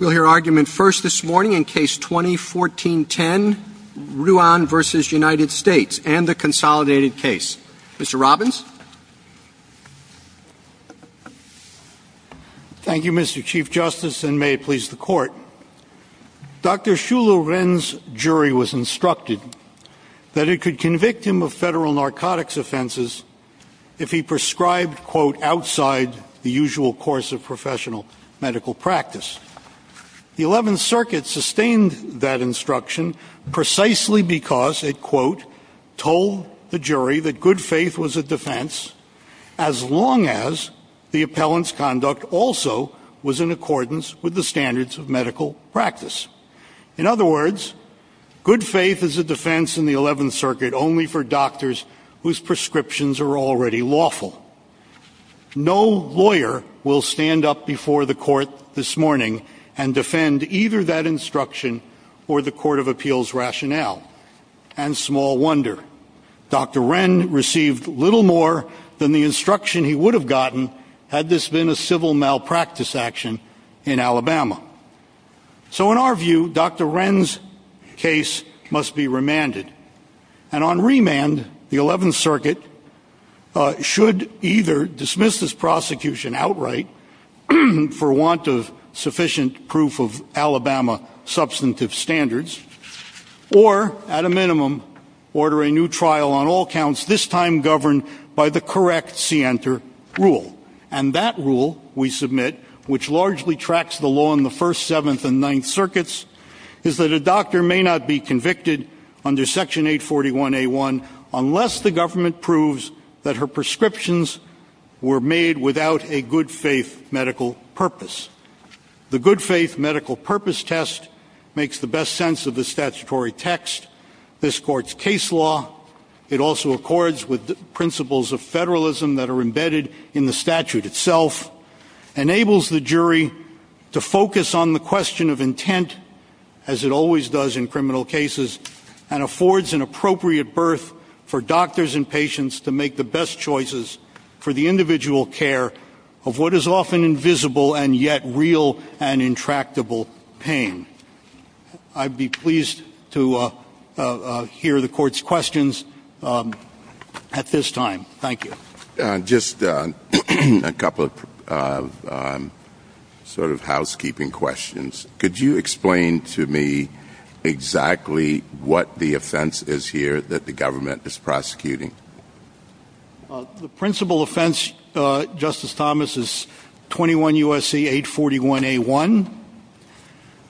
We'll hear argument first this morning in Case 2014-10, Ruan v. United States and the Consolidated Case. Mr. Robbins? Thank you, Mr. Chief Justice, and may it please the Court, Dr. Xu Lu Ren's jury was instructed that it could convict him of federal narcotics offenses if he prescribed, quote, outside of the usual course of professional medical practice. The Eleventh Circuit sustained that instruction precisely because it, quote, told the jury that good faith was a defense as long as the appellant's conduct also was in accordance with the standards of medical practice. In other words, good faith is a defense in the Eleventh Circuit only for doctors whose prescriptions are already lawful. No lawyer will stand up before the Court this morning and defend either that instruction or the Court of Appeals rationale. And small wonder, Dr. Ren received little more than the instruction he would have gotten had this been a civil malpractice action in Alabama. So in our view, Dr. Ren's case must be remanded. And on remand, the Eleventh Circuit should either dismiss this prosecution outright for want of sufficient proof of Alabama substantive standards or, at a minimum, order a new trial on all counts, this time governed by the correct scienter rule. And that rule, we submit, which largely tracks the law in the First, Seventh, and Ninth Circuits, is that a doctor may not be convicted under Section 841A1 unless the government proves that her prescriptions were made without a good faith medical purpose. The good faith medical purpose test makes the best sense of the statutory text. This Court's case law, it also accords with the principles of federalism that are embedded in the statute itself, enables the jury to focus on the question of intent, as it always does in criminal cases, and affords an appropriate berth for doctors and patients to make the best choices for the individual care of what is often invisible and yet real and intractable pain. I'd be pleased to hear the Court's questions at this time. Thank you. Just a couple of sort of housekeeping questions. Could you explain to me exactly what the offense is here that the government is prosecuting? The principal offense, Justice Thomas, is 21 U.S.C. 841A1,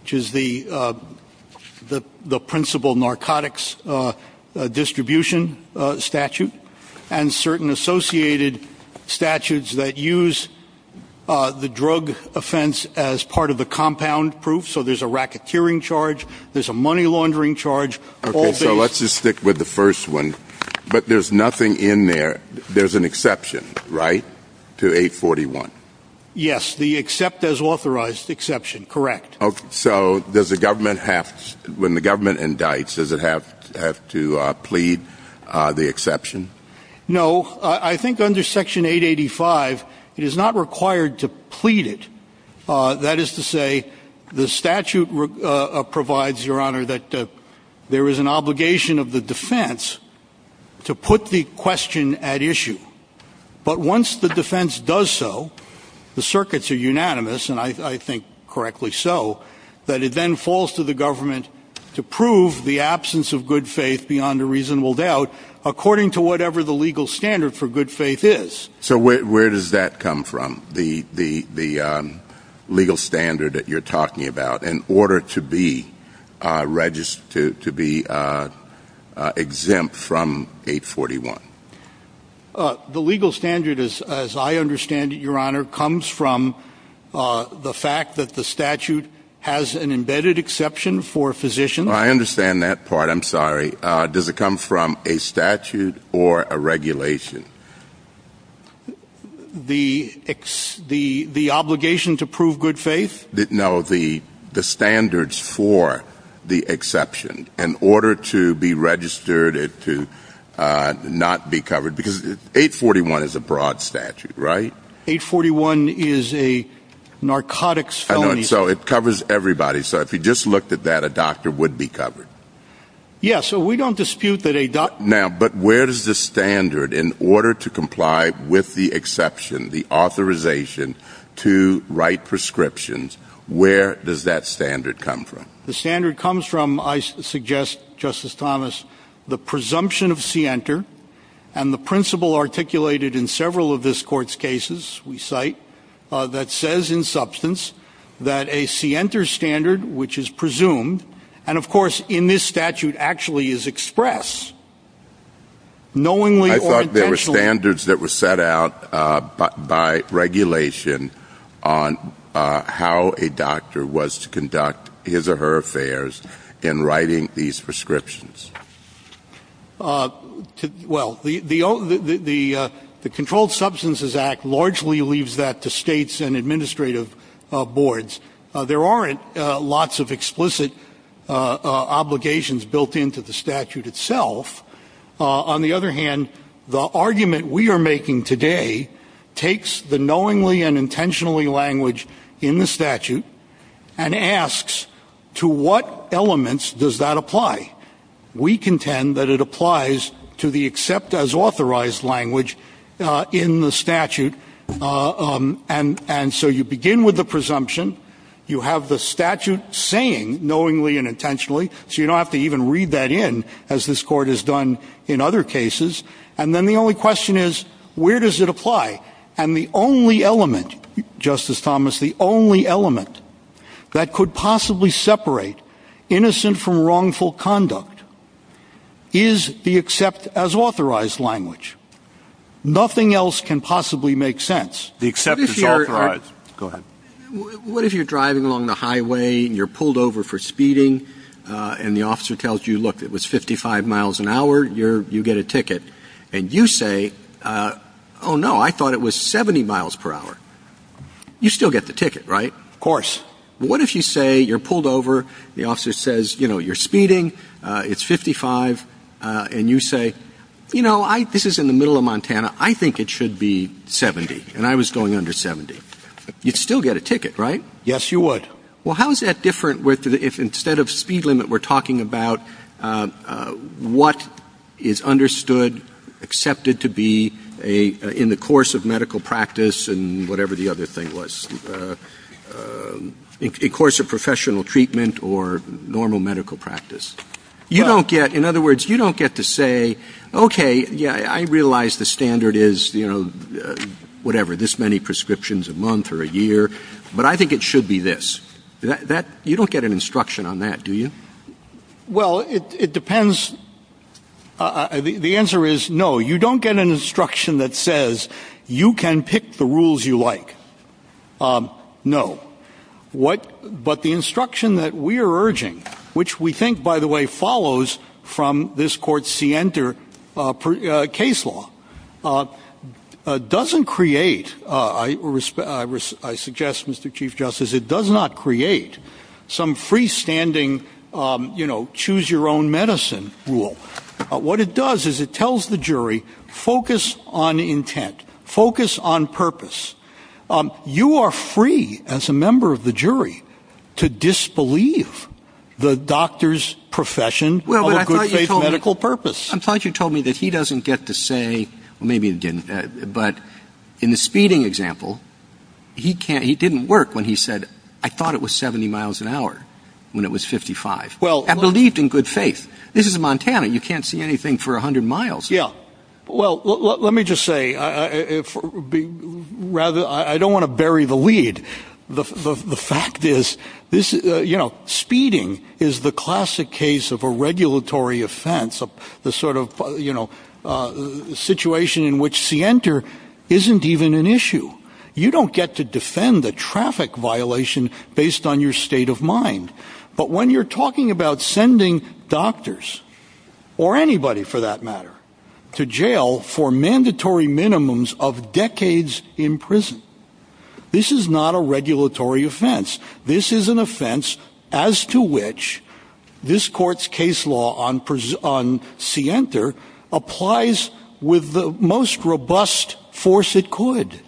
which is the principal narcotics distribution statute, and certain associated statutes that use the drug offense as part of the compound proof. So there's a racketeering charge, there's a money laundering charge. Okay, so let's just stick with the first one. But there's nothing in there, there's an exception, right, to 841? Yes, the accept as authorized exception, correct. So does the government have, when the government indicts, does it have to plead the exception? No. I think under Section 885, it is not required to plead it. That is to say, the statute provides, Your Honor, that there is an obligation of the defense to put the question at issue. But once the defense does so, the circuits are unanimous, and I think correctly so, that it then falls to the government to prove the absence of good faith beyond a reasonable doubt, according to whatever the legal standard for good faith is. So where does that come from, the legal standard that you're talking about, in order to be exempt from 841? The legal standard, as I understand it, Your Honor, comes from the fact that the statute has an embedded exception for physicians. I understand that part, I'm sorry. Does it come from a statute or a regulation? The obligation to prove good faith? No, the standards for the exception. In order to be registered, to not be covered, because 841 is a broad statute, right? 841 is a narcotics felony statute. So it covers everybody. So if you just looked at that, a doctor would be covered. Yes, so we don't dispute that a doctor... Now, but where does the standard, in order to comply with the exception, the authorization to write prescriptions, where does that standard come from? The standard comes from, I suggest, Justice Thomas, the presumption of scienter, and the principle articulated in several of this Court's cases, we cite, that says in substance that a scienter standard, which is presumed, and of course in this statute actually is expressed, knowingly or intentionally... I thought there were standards that were set out by regulation on how a doctor was to conduct his or her affairs in writing these prescriptions. Well, the Controlled Substances Act largely leaves that to states and administrative boards. There aren't lots of explicit obligations built into the statute itself. On the other hand, the argument we are making today takes the knowingly and intentionally language in the statute and asks, to what elements does that apply? We contend that it applies to the accept as authorized language in the statute, and so you begin with the presumption, you have the statute saying knowingly and intentionally, so you don't have to even read that in, as this Court has done in other cases, and then the only question is, where does it apply? And the only element, Justice Thomas, the only element that could possibly separate innocent from wrongful conduct is the accept as authorized language. Nothing else can possibly make sense. The accept as authorized. Go ahead. What if you're driving along the highway, you're pulled over for speeding, and the officer tells you, look, it was 55 miles an hour, you get a ticket, and you say, oh no, I thought it was 70 miles per hour. You still get the ticket, right? Of course. What if you say, you're pulled over, the officer says, you know, you're speeding, it's 55, and you say, you know, this is in the middle of Montana, I think it should be 70, and I was going under 70. You'd still get a ticket, right? Yes, you would. Well, how is that different if instead of speed limit, we're talking about what is understood, accepted to be in the course of medical practice, and whatever the other thing was, in the course of professional treatment or normal medical practice? You don't get, in other words, you don't get to say, okay, I realize the standard is, whatever, this many prescriptions a month or a year, but I think it should be this. You don't get an instruction on that, do you? Well, it depends. The answer is, no, you don't get an instruction that says, you can pick the rules you like. No. But the instruction that we are urging, which we think, by the way, follows from this court's scienter case law, doesn't create, I suggest, Mr. Chief Justice, it does not create some rule. What it does is it tells the jury, focus on intent, focus on purpose. You are free, as a member of the jury, to disbelieve the doctor's profession of a good faith medical purpose. Well, I thought you told me that he doesn't get to say, well, maybe he didn't, but in the speeding example, he didn't work when he said, I thought it was 70 miles an hour when it was 55, and believed in good faith. This is Montana. You can't see anything for 100 miles. Yeah. Well, let me just say, I don't want to bury the lead. The fact is, speeding is the classic case of a regulatory offense, the sort of situation in which scienter isn't even an issue. You don't get to defend a traffic violation based on your state of mind. But when you're talking about sending doctors, or anybody for that matter, to jail for mandatory minimums of decades in prison, this is not a regulatory offense. This is an offense as to which this court's case law on scienter applies with the most robust force it could.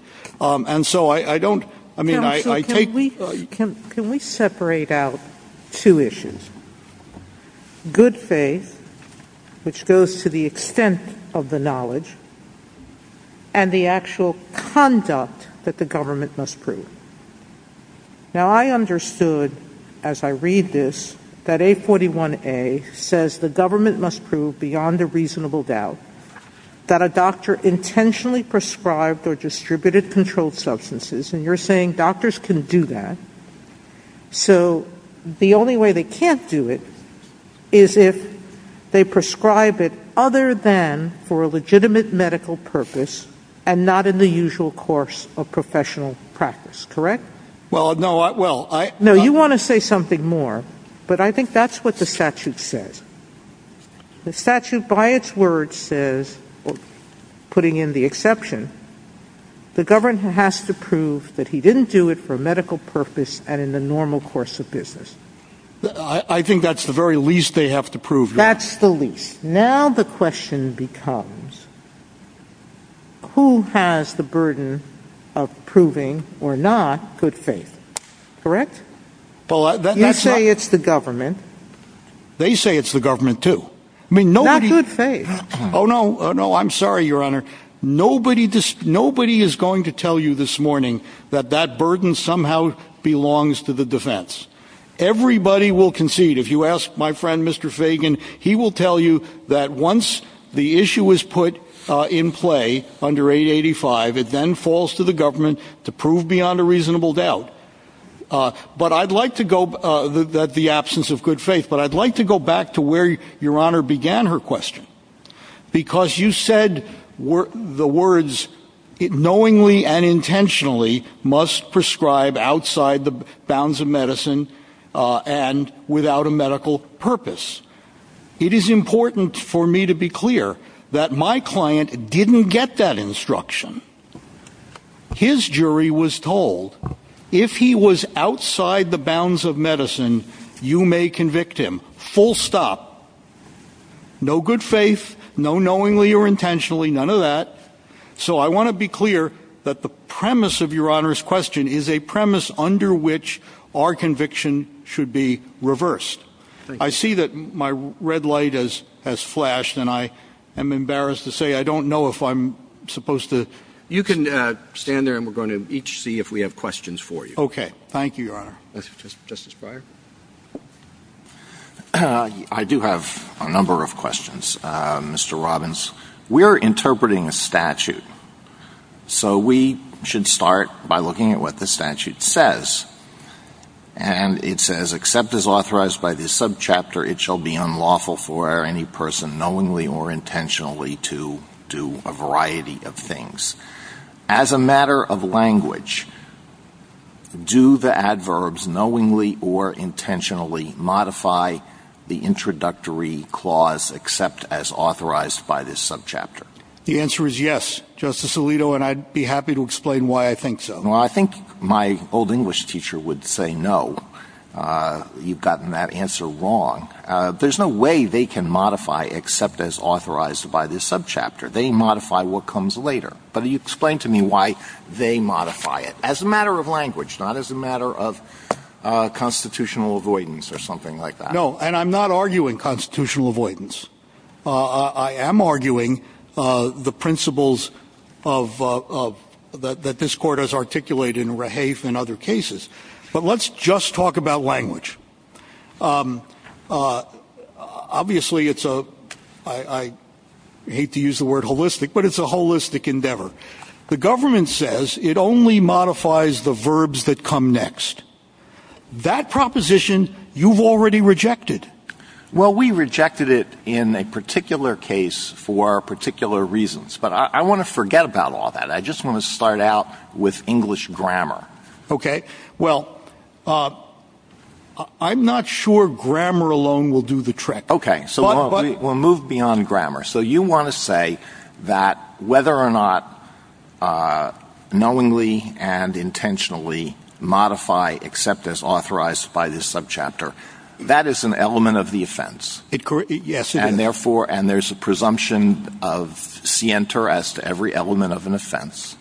And so I don't, I mean, I take... Can we separate out two issues? Good faith, which goes to the extent of the knowledge, and the actual conduct that the government must prove. Now, I understood, as I read this, that A41A says the government must prove beyond a reasonable doubt that a doctor intentionally prescribed or distributed controlled substances, and you're saying doctors can do that, so the only way they can't do it is if they prescribe it other than for a legitimate medical purpose, and not in the usual course of professional practice, correct? Well, no, well, I... No, you want to say something more, but I think that's what the statute says. The statute, by its words, says, putting in the exception, the government has to prove that he didn't do it for a medical purpose, and in the normal course of business. I think that's the very least they have to prove. That's the least. Now the question becomes, who has the burden of proving, or not, good faith, correct? You say it's the government. They say it's the government, too. I mean, nobody... Not good faith. Oh, no, no, I'm sorry, Your Honor. Nobody is going to tell you this morning that that burden somehow belongs to the defense. Everybody will concede. If you ask my friend, Mr. Fagan, he will tell you that once the issue is put in play under 885, it then falls to the government to prove beyond a reasonable doubt. But I'd like to go... The absence of good faith, but I'd like to go back to where Your Honor began her question. Because you said the words, knowingly and intentionally, must prescribe outside the bounds of medicine and without a medical purpose. It is important for me to be clear that my client didn't get that instruction. His jury was told, if he was outside the bounds of medicine, you may convict him. Full stop. No good faith, no knowingly or intentionally, none of that. So I want to be clear that the premise of Your Honor's question is a premise under which our conviction should be reversed. I see that my red light has flashed, and I am embarrassed to say I don't know if I'm supposed to... You can stand there, and we're going to each see if we have questions for you. Thank you, Your Honor. Justice Breyer? I do have a number of questions, Mr. Robbins. We are interpreting a statute, so we should start by looking at what the statute says. And it says, except as authorized by this subchapter, it shall be unlawful for any person knowingly or intentionally to do a variety of things. As a matter of language, do the adverbs knowingly or intentionally modify the introductory clause except as authorized by this subchapter? The answer is yes, Justice Alito, and I'd be happy to explain why I think so. Well, I think my old English teacher would say no. You've gotten that answer wrong. There's no way they can modify except as authorized by this subchapter. They modify what comes later. But you explain to me why they modify it. As a matter of language, not as a matter of constitutional avoidance or something like that. No, and I'm not arguing constitutional avoidance. I am arguing the principles that this Court has articulated in Rahaf and other cases. But let's just talk about language. Obviously, I hate to use the word holistic, but it's a holistic endeavor. The government says it only modifies the verbs that come next. That proposition, you've already rejected. Well, we rejected it in a particular case for particular reasons, but I want to forget about all that. I just want to start out with English grammar. Okay. Well, I'm not sure grammar alone will do the trick. Okay, so we'll move beyond grammar. So you want to say that whether or not knowingly and intentionally modify except as authorized by this subchapter, that is an element of the offense. Yes. And therefore, and there's a presumption of scienter as to every element of an offense.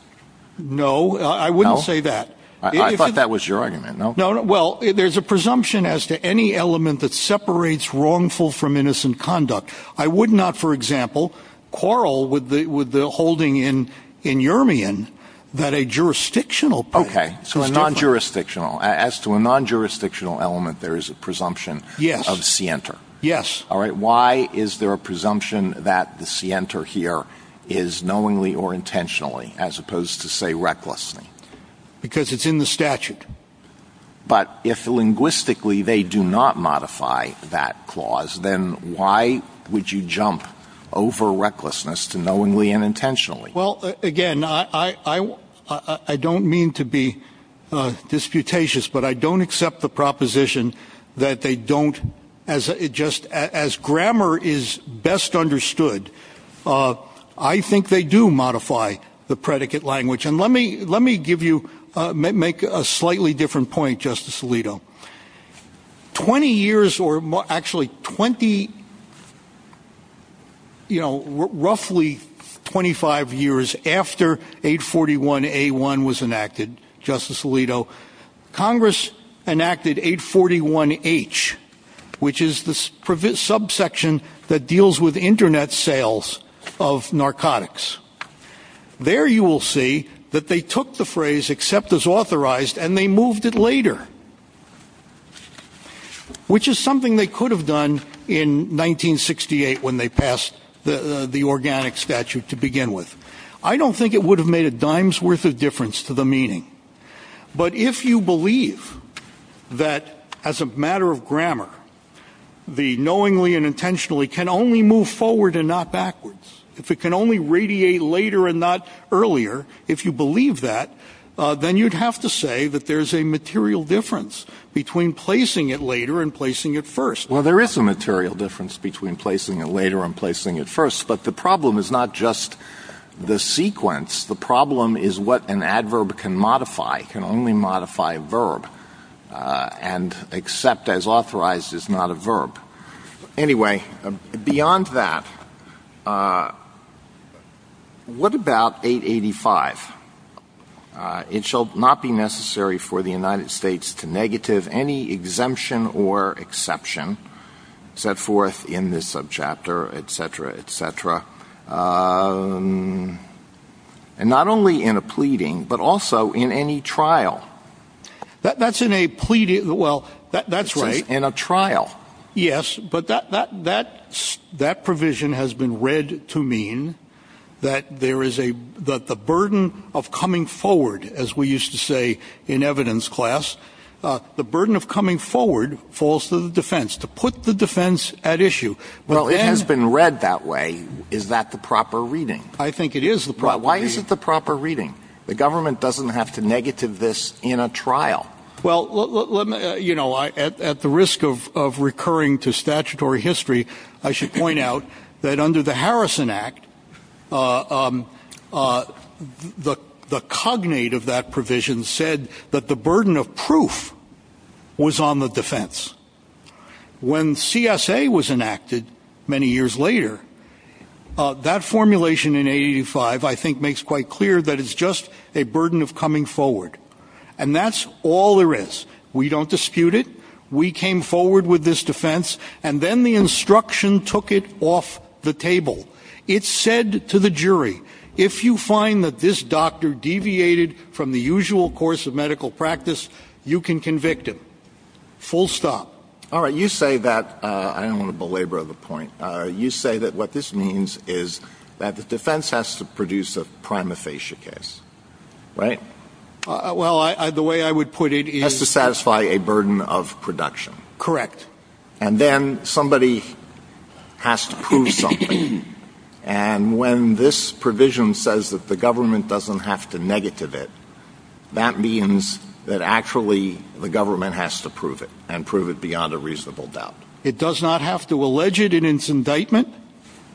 No, I wouldn't say that. I thought that was your argument. No, no. Well, there's a presumption as to any element that separates wrongful from innocent conduct. I would not, for example, quarrel with the holding in Urimian that a jurisdictional. Okay. So it's non-jurisdictional. As to a non-jurisdictional element, there is a presumption of scienter. Yes. All right. Why is there a presumption that the scienter here is knowingly or intentionally as opposed to, say, recklessly? Because it's in the statute. But if linguistically they do not modify that clause, then why would you jump over recklessness to knowingly and intentionally? Well, again, I don't mean to be disputatious, but I don't accept the proposition that they don't, as it just, as grammar is best understood, I think they do modify the predicate language. And let me give you, make a slightly different point, Justice Alito. Twenty years or actually twenty, you know, roughly 25 years after 841A1 was enacted, Justice Alito, Congress enacted 841H, which is the subsection that deals with internet sales of narcotics. There you will see that they took the phrase, except as authorized, and they moved it later, which is something they could have done in 1968 when they passed the organic statute to begin with. I don't think it would have made a dime's worth of difference to the meaning. But if you believe that, as a matter of grammar, the knowingly and intentionally can only move forward and not backwards, if it can only radiate later and not earlier, if you believe that, then you'd have to say that there's a material difference between placing it later and placing it first. Well, there is a material difference between placing it later and placing it first, but the problem is not just the sequence. The problem is what an adverb can modify, can only modify a verb, and except as authorized is not a verb. Anyway, beyond that, what about 885? It shall not be necessary for the United States to negative any exemption or exception set for, not only in a pleading, but also in any trial. That's in a pleading, well, that's right. In a trial. Yes, but that provision has been read to mean that the burden of coming forward, as we used to say in evidence class, the burden of coming forward falls to the defense, to put the defense at issue. Well, it has been read that way. Is that the proper reading? I think it is the proper reading. Well, why is it the proper reading? The government doesn't have to negative this in a trial. Well, at the risk of recurring to statutory history, I should point out that under the Harrison Act, the cognate of that provision said that the burden of proof was on the defense. When CSA was enacted many years later, that formulation in 885, I think, makes quite clear that it's just a burden of coming forward. And that's all there is. We don't dispute it. We came forward with this defense, and then the instruction took it off the table. It said to the jury, if you find that this doctor deviated from the usual course of medical practice, you can convict him. Full stop. All right. You say that, I don't want to belabor the point. You say that what this means is that the defense has to produce a prima facie case, right? Well, the way I would put it is- Has to satisfy a burden of production. Correct. And then somebody has to prove something. And when this provision says that the government doesn't have to negative it, that means that actually the government has to prove it, and prove it beyond a reasonable doubt. It does not have to allege it in its indictment,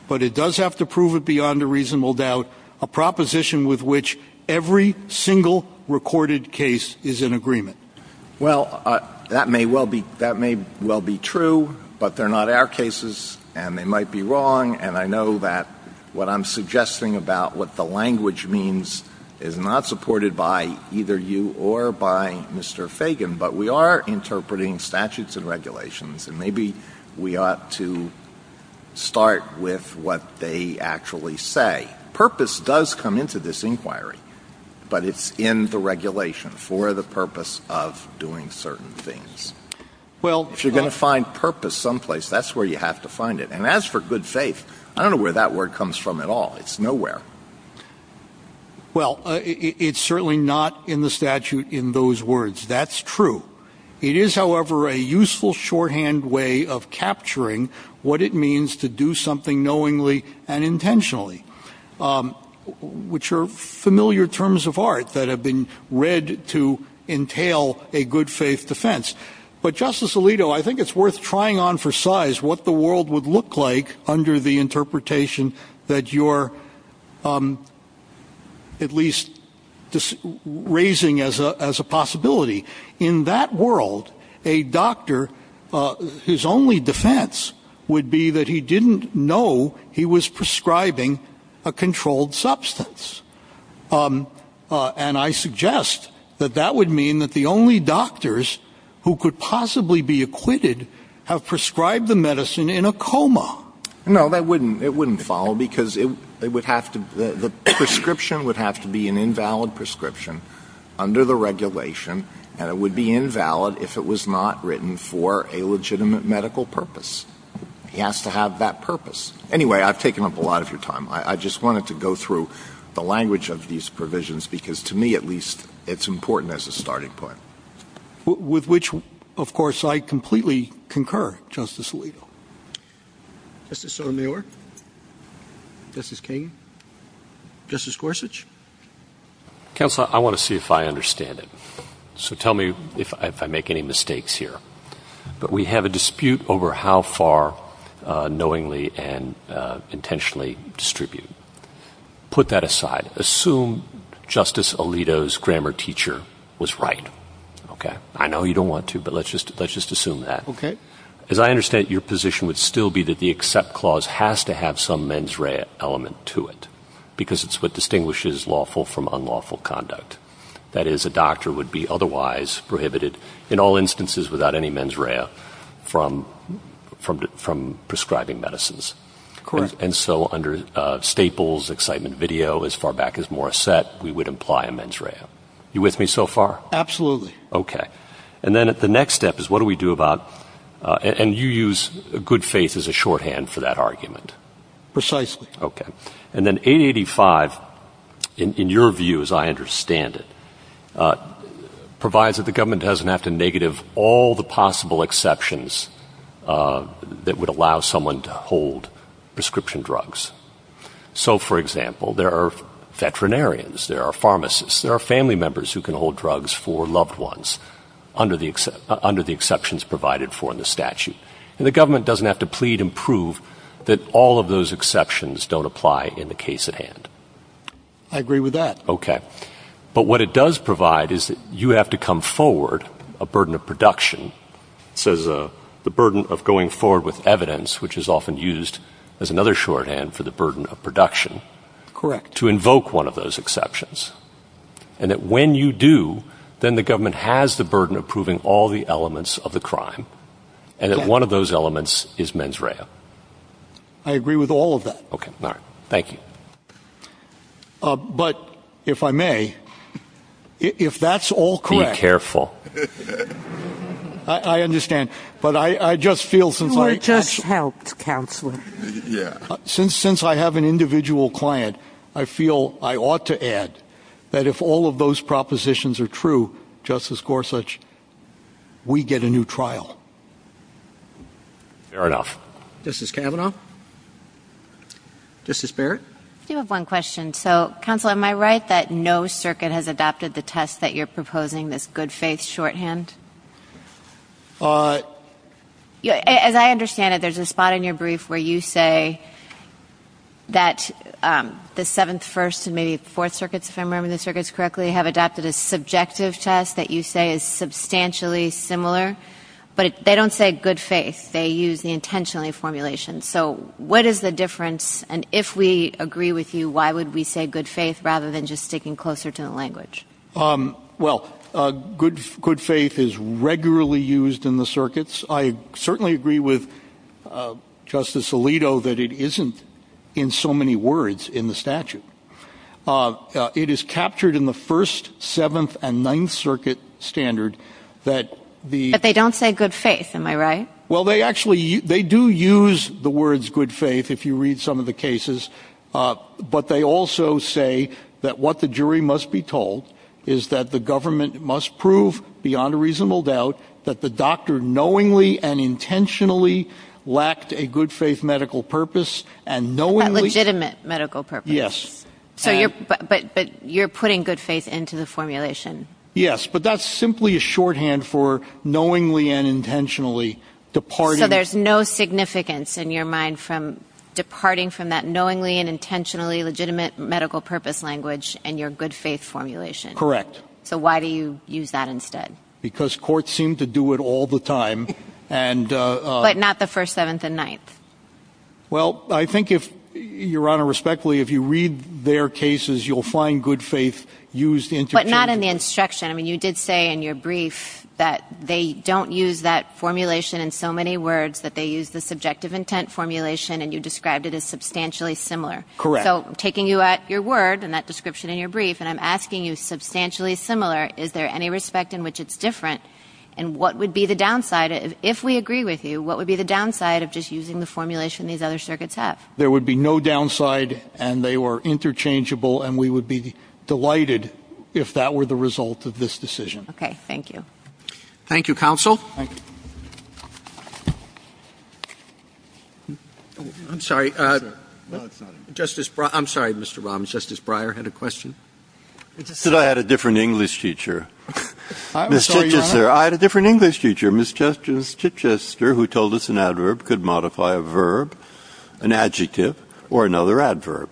but it does have to prove it beyond a reasonable doubt, a proposition with which every single recorded case is in agreement. Well, that may well be true, but they're not our cases, and they might be wrong, and I know that what I'm suggesting about what the language means is not supported by either you or by Mr. Fagan, but we are interpreting statutes and regulations, and maybe we ought to start with what they actually say. Purpose does come into this inquiry, but it's in the regulation for the purpose of doing certain things. Well- If you're going to find purpose someplace, that's where you have to find it. And as for good faith, I don't know where that word comes from at all. It's nowhere. Well, it's certainly not in the statute in those words. That's true. It is, however, a useful shorthand way of capturing what it means to do something knowingly and intentionally, which are familiar terms of art that have been read to entail a good faith defense. But Justice Alito, I think it's worth trying on for size what the world would look like under the interpretation that you're at least raising as a possibility. In that world, a doctor, his only defense would be that he didn't know he was prescribing a controlled substance. And I suggest that that would mean that the only doctors who could possibly be acquitted have prescribed the medicine in a coma. No, that wouldn't. It wouldn't follow because the prescription would have to be an invalid prescription under the regulation, and it would be invalid if it was not written for a legitimate medical purpose. He has to have that purpose. Anyway, I've taken up a lot of your time. I just wanted to go through the language of these provisions, because to me, at least, it's important as a starting point. With which, of course, I completely concur. Justice Alito. Justice Sotomayor. Justice King. Justice Gorsuch. Counsel, I want to see if I understand it, so tell me if I make any mistakes here. But we have a dispute over how far knowingly and intentionally distribute. Put that aside. Assume Justice Alito's grammar teacher was right. I know you don't want to, but let's just assume that. As I understand it, your position would still be that the accept clause has to have some mens rea element to it, because it's what distinguishes lawful from unlawful conduct. That is, a doctor would be otherwise prohibited, in all instances without any mens rea, from prescribing medicines. Correct. And so under Staples, excitement video, as far back as Morissette, we would imply a mens rea. You with me so far? Absolutely. Okay. And then the next step is what do we do about, and you use good faith as a shorthand for that argument. Precisely. Okay. And then 885, in your view as I understand it, provides that the government doesn't have to negative all the possible exceptions that would allow someone to hold prescription drugs. So for example, there are veterinarians, there are pharmacists, there are family members who can hold drugs for loved ones under the exceptions provided for in the statute. The government doesn't have to plead and prove that all of those exceptions don't apply in the case at hand. I agree with that. Okay. But what it does provide is that you have to come forward, a burden of production, says the burden of going forward with evidence, which is often used as another shorthand for the burden of production. Correct. To invoke one of those exceptions. And that when you do, then the government has the burden of proving all the elements of the crime. And that one of those elements is mens rea. I agree with all of that. Okay. All right. Thank you. But if I may, if that's all correct- Be careful. I understand. But I just feel since I- Let us help, Counselor. Since I have an individual client, I feel I ought to add that if all of those propositions are true, Justice Gorsuch, we get a new trial. Fair enough. Justice Kavanaugh? Justice Barrett? I do have one question. So Counselor, am I right that no circuit has adopted the test that you're proposing, this good faith shorthand? As I understand it, there's a spot in your brief where you say that the Seventh, First, and maybe Fourth Circuits, if I remember the circuits correctly, have adopted a subjective test that you say is substantially similar, but they don't say good faith. They use the intentionally formulation. So what is the difference? And if we agree with you, why would we say good faith rather than just sticking closer to the language? Well, good faith is regularly used in the circuits. I certainly agree with Justice Alito that it isn't in so many words in the statute. It is captured in the First, Seventh, and Ninth Circuit standard that the- But they don't say good faith. Am I right? Well, they actually- they do use the words good faith if you read some of the cases, but they also say that what the jury must be told is that the government must prove, beyond a reasonable doubt, that the doctor knowingly and intentionally lacked a good faith medical purpose and knowingly- A legitimate medical purpose. Yes. So you're putting good faith into the formulation. Yes, but that's simply a shorthand for knowingly and intentionally departing- So there's no significance in your mind from departing from that knowingly and intentionally legitimate medical purpose language and your good faith formulation. Correct. So why do you use that instead? Because courts seem to do it all the time and- But not the First, Seventh, and Ninth. Well, I think if- Your Honor, respectfully, if you read their cases, you'll find good faith used into- But not in the instruction. I mean, you did say in your brief that they don't use that formulation in so many words that they use the subjective intent formulation and you described it as substantially similar. Correct. So I'm taking you at your word and that description in your brief and I'm asking you substantially similar. Is there any respect in which it's different and what would be the downside? If we agree with you, what would be the downside of just using the formulation these other circuits have? There would be no downside and they were interchangeable and we would be delighted if that were the result of this decision. Okay. Thank you. Thank you, Counsel. I'm sorry. Justice Breyer- I'm sorry, Mr. Robbins. Justice Breyer had a question. It's just that I had a different English teacher. I had a different English teacher, Ms. Chichester, who told us an adverb could modify a verb, an adjective, or another adverb.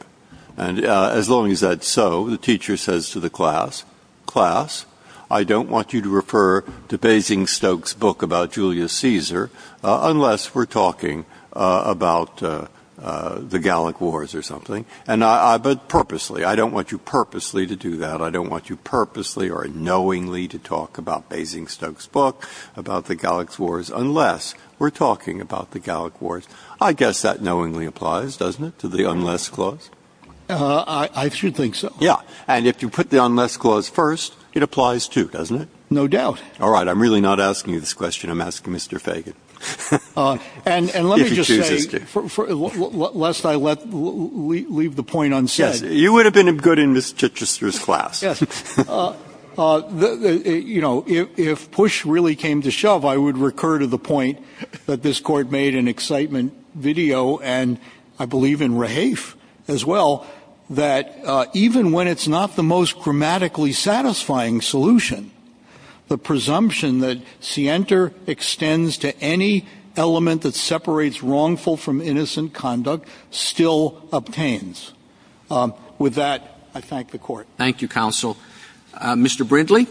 As long as that's so, the teacher says to the class, class, I don't want you to refer to Basingstoke's book about Julius Caesar unless we're talking about the Gallic Wars or something. Purposely. I don't want you purposely to do that. I don't want you purposely or knowingly to talk about Basingstoke's book about the Gallic Wars unless we're talking about the Gallic Wars. I guess that knowingly applies, doesn't it, to the unless clause? I do think so. Yeah. And if you put the unless clause first, it applies too, doesn't it? No doubt. All right. I'm really not asking you this question. I'm asking Mr. Fagan. And let me just say, lest I leave the point unsaid. You would have been good in Ms. Chichester's class. Yes. You know, if push really came to shove, I would recur to the point that this court made in excitement video, and I believe in Rahafe as well, that even when it's not the most grammatically satisfying solution, the presumption that scienter extends to any element that separates wrongful from innocent conduct still obtains. With that, I thank the court. Thank you, counsel. Mr. Brindley?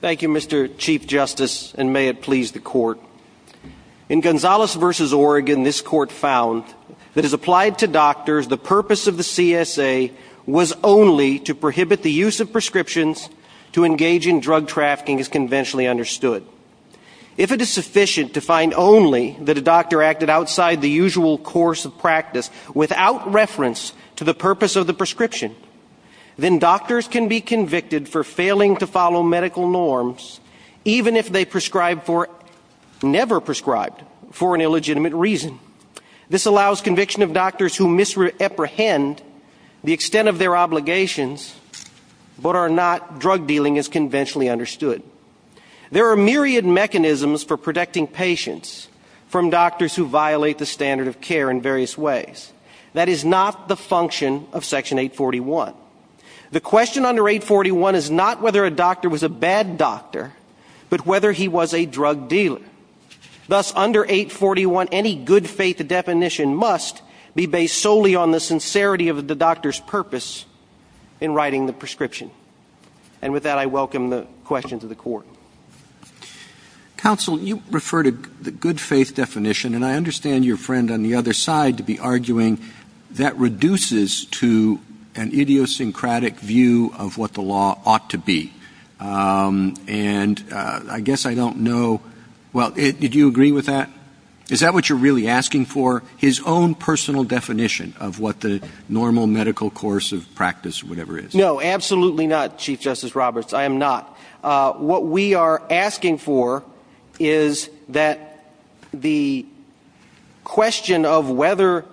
Thank you, Mr. Chief Justice, and may it please the court. In Gonzales v. Oregon, this court found that as applied to doctors, the purpose of the CSA was only to prohibit the use of prescriptions to engage in drug trafficking as conventionally understood. If it is sufficient to find only that a doctor acted outside the usual course of practice without reference to the purpose of the prescription, then doctors can be convicted for failing to follow medical norms even if they never prescribed for an illegitimate reason. This allows conviction of doctors who misapprehend the extent of their obligations but are not drug dealing as conventionally understood. There are myriad mechanisms for protecting patients from doctors who violate the standard of care in various ways. That is not the function of Section 841. The question under 841 is not whether a doctor was a bad doctor, but whether he was a drug dealer. Thus, under 841, any good faith definition must be based solely on the sincerity of the doctor's purpose in writing the prescription. And with that, I welcome the question to the court. Counsel, you refer to the good faith definition, and I understand your friend on the other side has a idiosyncratic view of what the law ought to be. And I guess I don't know, well, did you agree with that? Is that what you're really asking for, his own personal definition of what the normal medical course of practice, whatever it is? No, absolutely not, Chief Justice Roberts. I am not. What we are asking for is that the question of whether,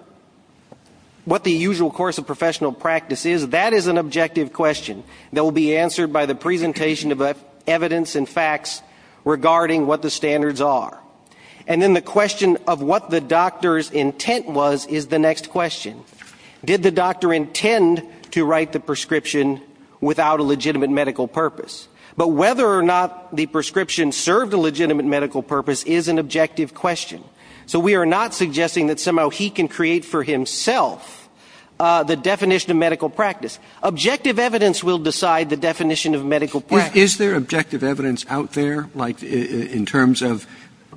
what the usual course of professional practice is, that is an objective question that will be answered by the presentation of evidence and facts regarding what the standards are. And then the question of what the doctor's intent was is the next question. Did the doctor intend to write the prescription without a legitimate medical purpose? But whether or not the prescription served a legitimate medical purpose is an objective question. So we are not suggesting that somehow he can create for himself the definition of medical practice. Objective evidence will decide the definition of medical practice. Is there objective evidence out there, like in terms of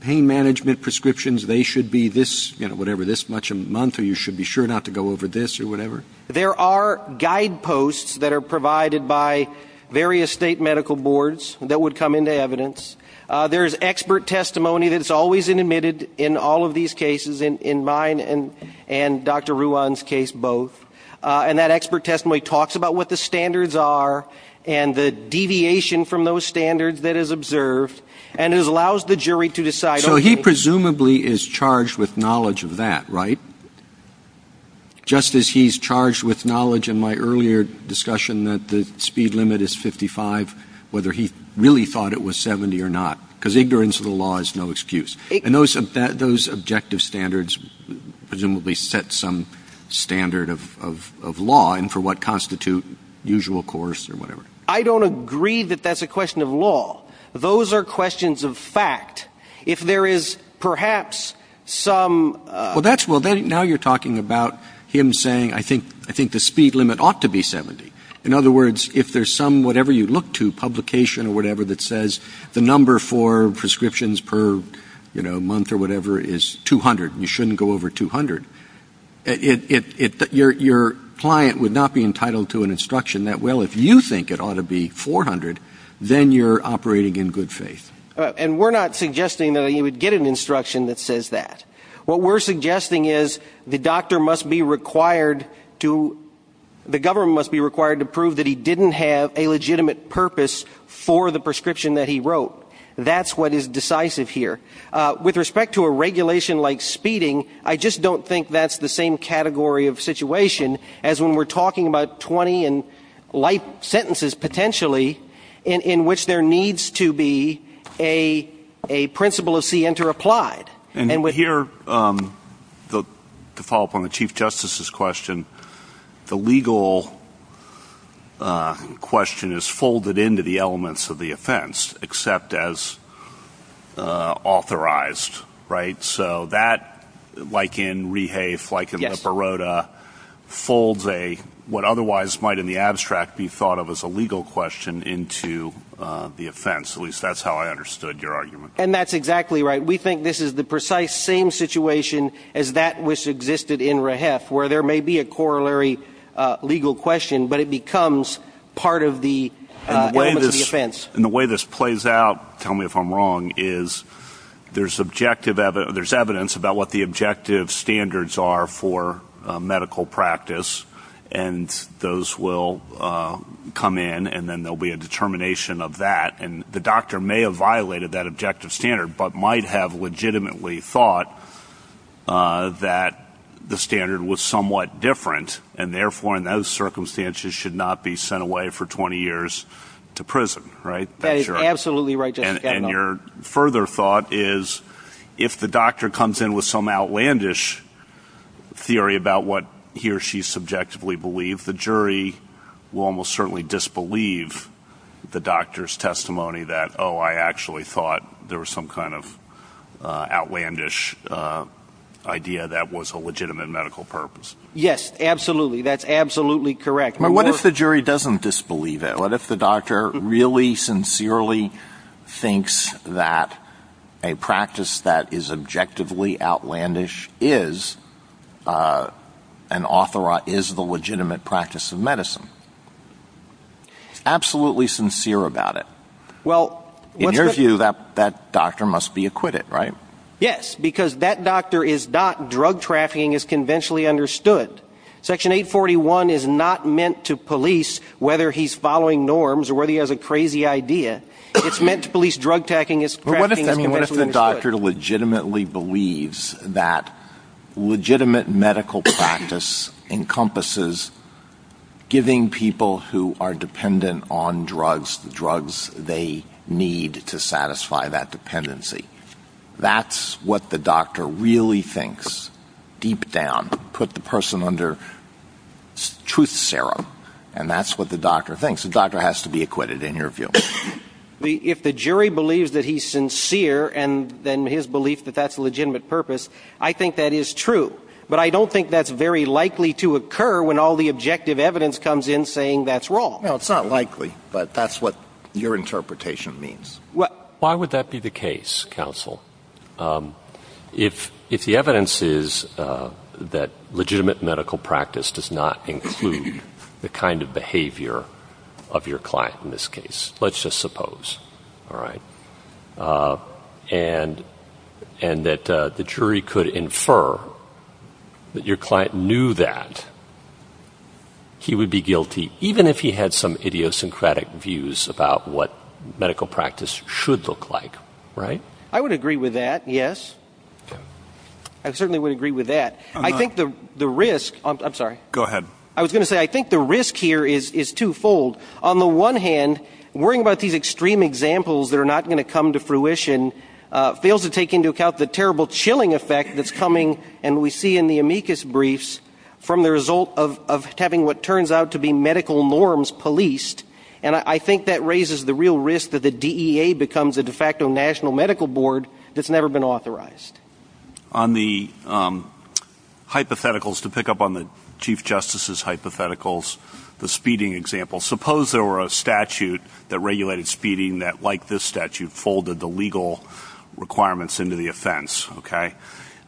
pain management prescriptions, they should be this, you know, whatever, this much a month, or you should be sure not to go over this or whatever? There are guideposts that are provided by various state medical boards that would come into evidence. There is expert testimony that is always admitted in all of these cases, in mine and Dr. Ruwan's case both. And that expert testimony talks about what the standards are and the deviation from those standards that is observed and allows the jury to decide. So he presumably is charged with knowledge of that, right? Just as he's charged with knowledge in my earlier discussion that the speed limit is 70 or not, because ignorance of the law is no excuse. And those objective standards presumably set some standard of law and for what constitute usual course or whatever. I don't agree that that's a question of law. Those are questions of fact. If there is perhaps some... Well, now you're talking about him saying, I think the speed limit ought to be 70. In other words, if there's some whatever you look to, publication or whatever that says the number for prescriptions per month or whatever is 200, you shouldn't go over 200. Your client would not be entitled to an instruction that, well, if you think it ought to be 400, then you're operating in good faith. And we're not suggesting that he would get an instruction that says that. What we're suggesting is the doctor must be required to... The government must be required to prove that he didn't have a legitimate purpose for the prescription that he wrote. That's what is decisive here. With respect to a regulation like speeding, I just don't think that's the same category of situation as when we're talking about 20 and life sentences potentially in which there needs to be a principle of C interapplied. And here, to follow up on the Chief Justice's question, the legal question is folded into the elements of the offense except as authorized, right? So that, like in rehafe, like in the parota, folds what otherwise might in the abstract be thought of as a legal question into the offense. At least that's how I understood your argument. And that's exactly right. We think this is the precise same situation as that which existed in rehafe, where there may be a corollary legal question, but it becomes part of the... And the way this plays out, tell me if I'm wrong, is there's objective... There's evidence about what the objective standards are for medical practice, and those will come in, and then there'll be a determination of that. And the doctor may have violated that objective standard, but might have legitimately thought that the standard was somewhat different, and therefore, in those circumstances, should not be sent away for 20 years to prison, right? That's absolutely right. And your further thought is, if the doctor comes in with some outlandish theory about what he or she subjectively believed, the jury will almost certainly disbelieve the doctor's testimony that, oh, I actually thought there was some kind of outlandish idea that was a legitimate medical purpose. Yes, absolutely. That's absolutely correct. But what if the jury doesn't disbelieve it? What if the doctor really, sincerely thinks that a practice that is objectively outlandish is an authorized, is the legitimate practice of medicine? Absolutely sincere about it. Well... In your view, that doctor must be acquitted, right? Yes, because that doctor is not drug trafficking as conventionally understood. Section 841 is not meant to police whether he's following norms or whether he has a crazy idea. It's meant to police drug-tacking, it's... But what if the doctor legitimately believes that legitimate medical practice encompasses giving people who are dependent on drugs the drugs they need to satisfy that dependency? That's what the doctor really thinks, deep down, put the person under truth serum, and that's what the doctor thinks. The doctor has to be acquitted, in your view. If the jury believes that he's sincere and then his belief that that's a legitimate purpose, I think that is true. But I don't think that's very likely to occur when all the objective evidence comes in saying that's wrong. No, it's not likely, but that's what your interpretation means. Why would that be the case, counsel, if the evidence is that legitimate medical practice does not include the kind of behavior of your client in this case? Let's just suppose, all right, and that the jury could infer that your client knew that he would be guilty, even if he had some idiosyncratic views about what medical practice should look like, right? I would agree with that, yes. I certainly would agree with that. I think the risk... I'm sorry. Go ahead. I was going to say, I think the risk here is twofold. On the one hand, worrying about these extreme examples that are not going to come to fruition from the result of having what turns out to be medical norms policed. And I think that raises the real risk that the DEA becomes a de facto national medical board that's never been authorized. On the hypotheticals, to pick up on the Chief Justice's hypotheticals, the speeding example, suppose there were a statute that regulated speeding that, like this statute, folded the legal requirements into the offense, okay?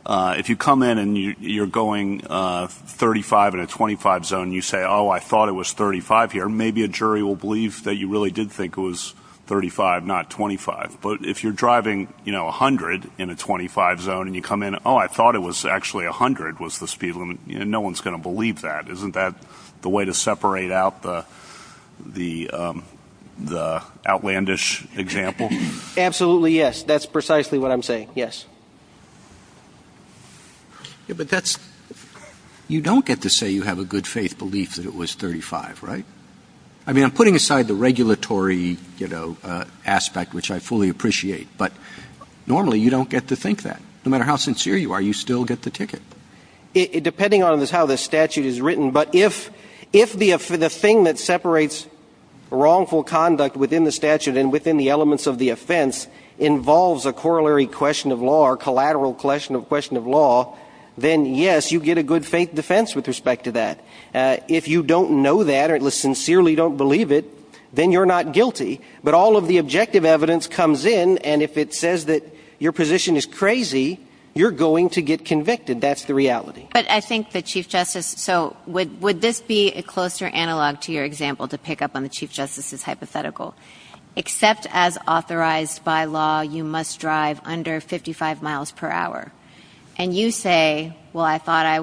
If you come in and you're going 35 in a 25 zone, you say, oh, I thought it was 35 here. Maybe a jury will believe that you really did think it was 35, not 25. But if you're driving, you know, 100 in a 25 zone, and you come in, oh, I thought it was actually 100 was the speed limit, you know, no one's going to believe that. Isn't that the way to separate out the outlandish example? Absolutely, yes. That's precisely what I'm saying, yes. Yeah, but that's, you don't get to say you have a good faith belief that it was 35, right? I mean, I'm putting aside the regulatory, you know, aspect, which I fully appreciate, but normally you don't get to think that. No matter how sincere you are, you still get the ticket. Depending on how the statute is written, but if the thing that separates wrongful conduct within the statute and within the elements of the offense involves a corollary question of law or collateral question of law, then yes, you get a good faith defense with respect to that. If you don't know that or sincerely don't believe it, then you're not guilty. But all of the objective evidence comes in, and if it says that your position is crazy, you're going to get convicted. That's the reality. But I think the Chief Justice, so would this be a closer analog to your example to pick up on the Chief Justice's hypothetical, except as authorized by law, you must drive under 55 miles per hour, and you say, well, I thought I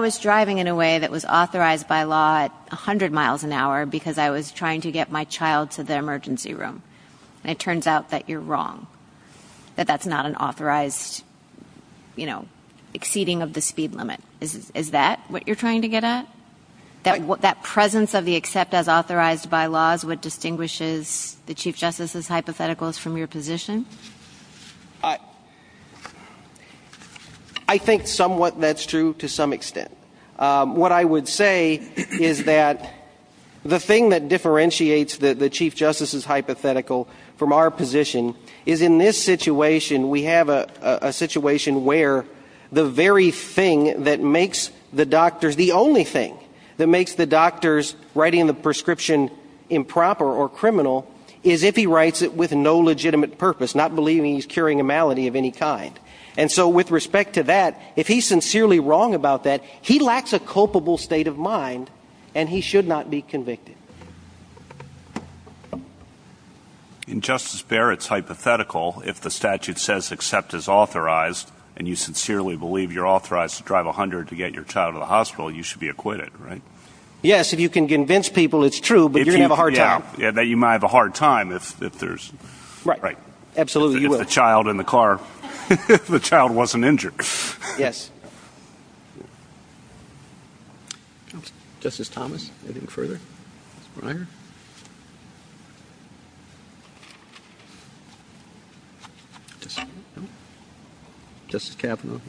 was driving in a way that was authorized by law at 100 miles an hour because I was trying to get my child to the emergency room. And it turns out that you're wrong, that that's not an authorized, you know, exceeding of the speed limit. Is that what you're trying to get at? That presence of the except as authorized by law is what distinguishes the Chief Justice's hypotheticals from your position? I think somewhat that's true to some extent. What I would say is that the thing that differentiates the Chief Justice's hypothetical from our position is in this situation, we have a situation where the very thing that makes the doctors the only thing that makes the doctors writing the prescription improper or criminal is if he writes it with no legitimate purpose, not believing he's curing a malady of any kind. And so with respect to that, if he's sincerely wrong about that, he lacks a culpable state of mind, and he should not be convicted. In Justice Barrett's hypothetical, if the statute says except as authorized, and you know, you should be acquitted. Right? Yes. If you can convince people, it's true. But you're going to have a hard time. Yeah, you might have a hard time if there's absolutely a child in the car, the child wasn't injured. Yes. Justice Thomas. Thank you. Thank you. Thank you. Thank you. Thank you.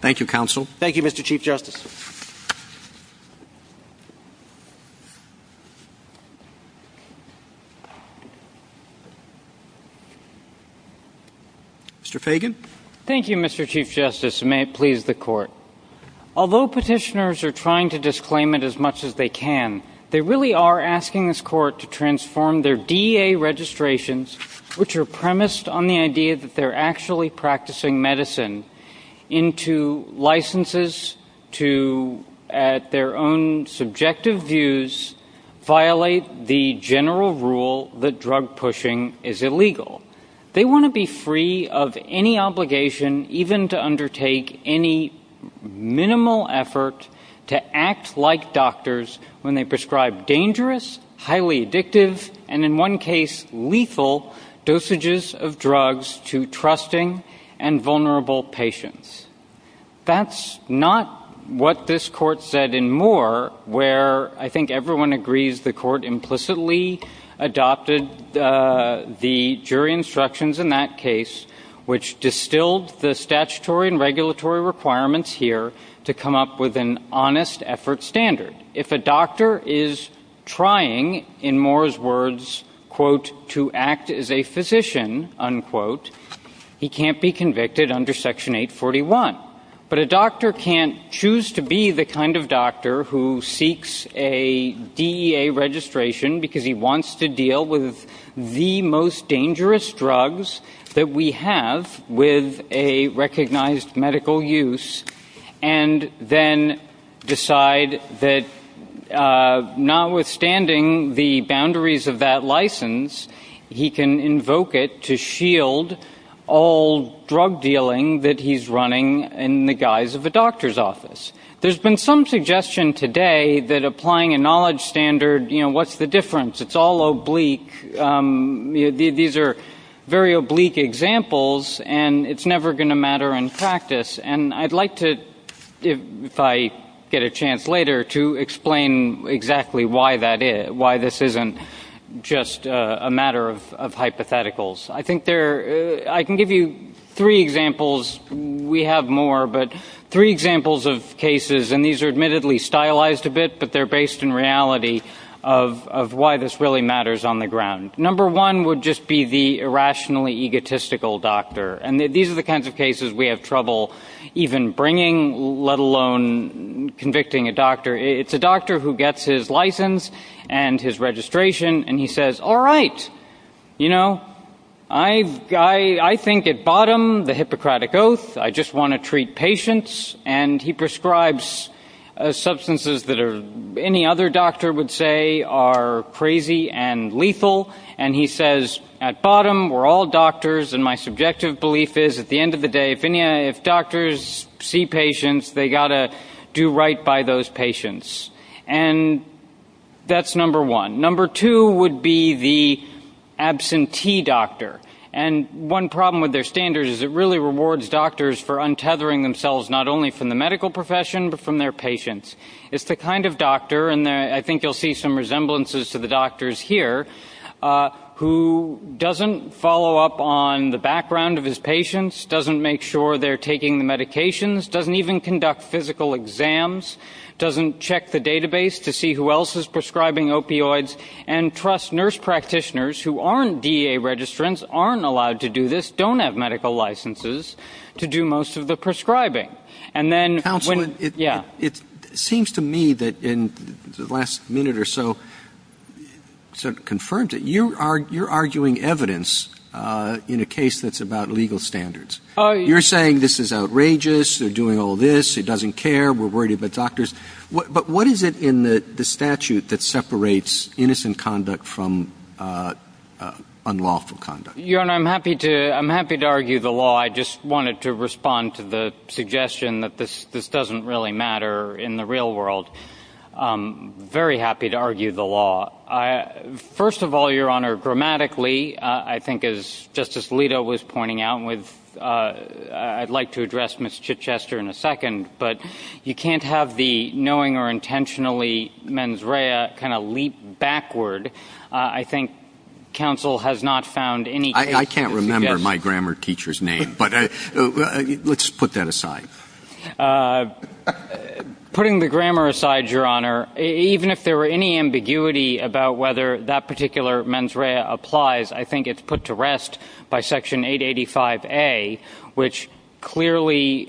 Thank you. Thank you. Thank you. Thank you. Thank you, Mr. Chief Justice. Mr. Fagan. Thank you, Mr. Chief Justice, and may it please the Court. Although petitioners are trying to disclaim it as much as they can, they really are asking this Court to transform their DEA registrations, which are premised on the idea that they're actually practicing medicine, into licenses to, at their own subjective views, violate the general rule that drug pushing is illegal. They want to be free of any obligation even to undertake any minimal effort to act like doctors when they prescribe dangerous, highly addictive, and in one case, lethal, dosages of drugs to trusting and vulnerable patients. That's not what this Court said in Moore, where I think everyone agrees the Court implicitly adopted the jury instructions in that case, which distilled the statutory and regulatory requirements here to come up with an honest effort standard. If a doctor is trying, in Moore's words, quote, to act as a physician, unquote, he can't be convicted under Section 841. But a doctor can't choose to be the kind of doctor who seeks a DEA registration because he wants to deal with the most dangerous drugs that we have with a recognized medical use, and then decide that notwithstanding the boundaries of that license, he can invoke it to shield all drug dealing that he's running in the guise of a doctor's office. There's been some suggestion today that applying a knowledge standard, you know, what's the difference? It's all oblique. You know, these are very oblique examples, and it's never going to matter in practice. And I'd like to, if I get a chance later, to explain exactly why this isn't just a matter of hypotheticals. I think there, I can give you three examples. We have more, but three examples of cases, and these are admittedly stylized a bit, but they're based in reality of why this really matters on the ground. Number one would just be the irrationally egotistical doctor. And these are the kinds of cases we have trouble even bringing, let alone convicting a doctor. It's a doctor who gets his license and his registration, and he says, all right, you know, I think at bottom, the Hippocratic Oath, I just want to treat patients. And he prescribes substances that any other doctor would say are crazy and lethal. And he says, at bottom, we're all doctors, and my subjective belief is, at the end of the day, if doctors see patients, they got to do right by those patients. And that's number one. Number two would be the absentee doctor. And one problem with their standards is it really rewards doctors for untethering themselves not only from the medical profession, but from their patients. It's the kind of doctor, and I think you'll see some resemblances to the doctors here, who doesn't follow up on the background of his patients, doesn't make sure they're taking the medications, doesn't even conduct physical exams, doesn't check the database to see who else is prescribing opioids, and trusts nurse practitioners who aren't DEA registrants, aren't allowed to do this, don't have medical licenses to do most of the prescribing. Counsel, it seems to me that in the last minute or so, it sort of confirms it. You're arguing evidence in a case that's about legal standards. You're saying this is outrageous, they're doing all this, it doesn't care, we're worried about doctors. But what is it in the statute that separates innocent conduct from unlawful conduct? Your Honor, I'm happy to argue the law, I just wanted to respond to the suggestion that this doesn't really matter in the real world. Very happy to argue the law. First of all, Your Honor, grammatically, I think as Justice Alito was pointing out, I'd like to address Ms. Chichester in a second, but you can't have the knowing or intentionally mens rea kind of leap backward. I think counsel has not found any... I can't remember my grammar teacher's name, but let's put that aside. Putting the grammar aside, Your Honor, even if there were any ambiguity about whether that particular mens rea applies, I think it's put to rest by Section 885A, which clearly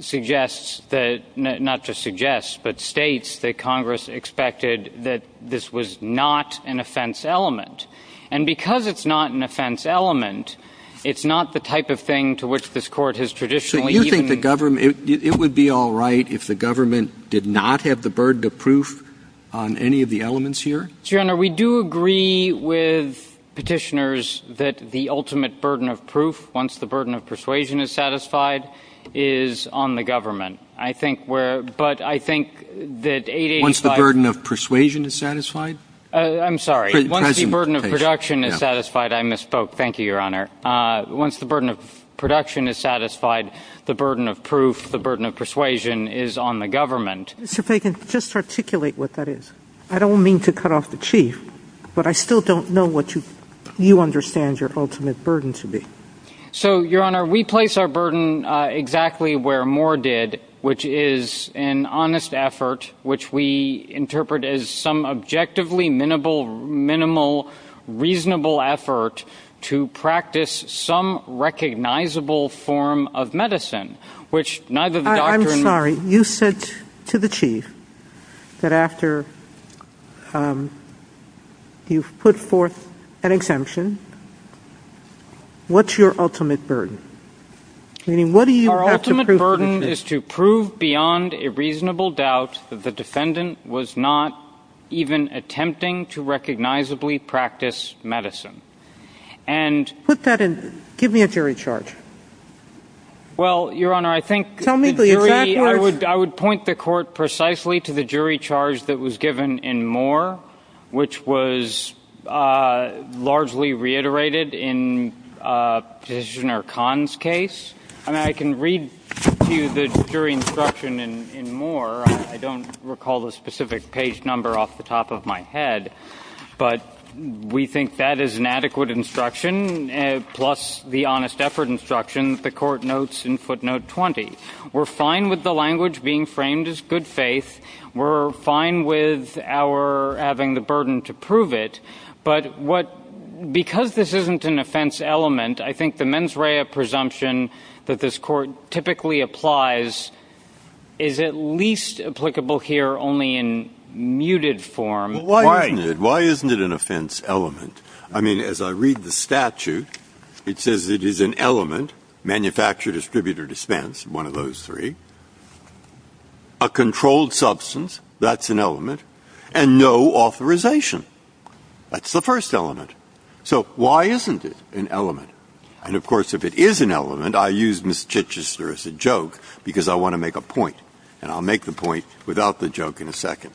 suggests that, not just suggests, but states that Congress expected that this was not an offense element. And because it's not an offense element, it's not the type of thing to which this court has traditionally... So you think the government, it would be all right if the government did not have the burden of proof on any of the elements here? Your Honor, we do agree with petitioners that the ultimate burden of proof, once the burden of persuasion is satisfied, is on the government. But I think that 885... Once the burden of persuasion is satisfied? I'm sorry. Once the burden of production is satisfied, I misspoke. Thank you, Your Honor. Once the burden of production is satisfied, the burden of proof, the burden of persuasion is on the government. Mr. Fagan, just articulate what that is. I don't mean to cut off the chief, but I still don't know what you understand your ultimate burden to be. So, Your Honor, we place our burden exactly where Moore did, which is an honest effort which we interpret as some objectively minimal, reasonable effort to practice some recognizable form of medicine, which neither the doctor... I'm sorry, you said to the chief that after you've put forth an exemption, what's your ultimate burden? You mean, what do you have to prove? Our ultimate burden is to prove beyond a reasonable doubt that the defendant was not even attempting to recognizably practice medicine. And... Put that in... Give me a jury charge. Well, Your Honor, I think... I would point the court precisely to the jury charge that was given in Moore, which was largely reiterated in Mr. Khan's case, and I can read to you the jury instruction in Moore. I don't recall the specific page number off the top of my head, but we think that is an adequate instruction, plus the honest effort instruction the court notes in footnote 20. We're fine with the language being framed as good faith. We're fine with our having the burden to prove it. But what... Because this isn't an offense element, I think the mens rea presumption that this court typically applies is at least applicable here only in muted form. Why isn't it? Why isn't it an offense element? I mean, as I read the statute, it says it is an element, manufacture, distribute, or one of those three, a controlled substance, that's an element, and no authorization. That's the first element. So why isn't it an element? And of course, if it is an element, I use Ms. Chichester as a joke because I want to make a point, and I'll make the point without the joke in a second.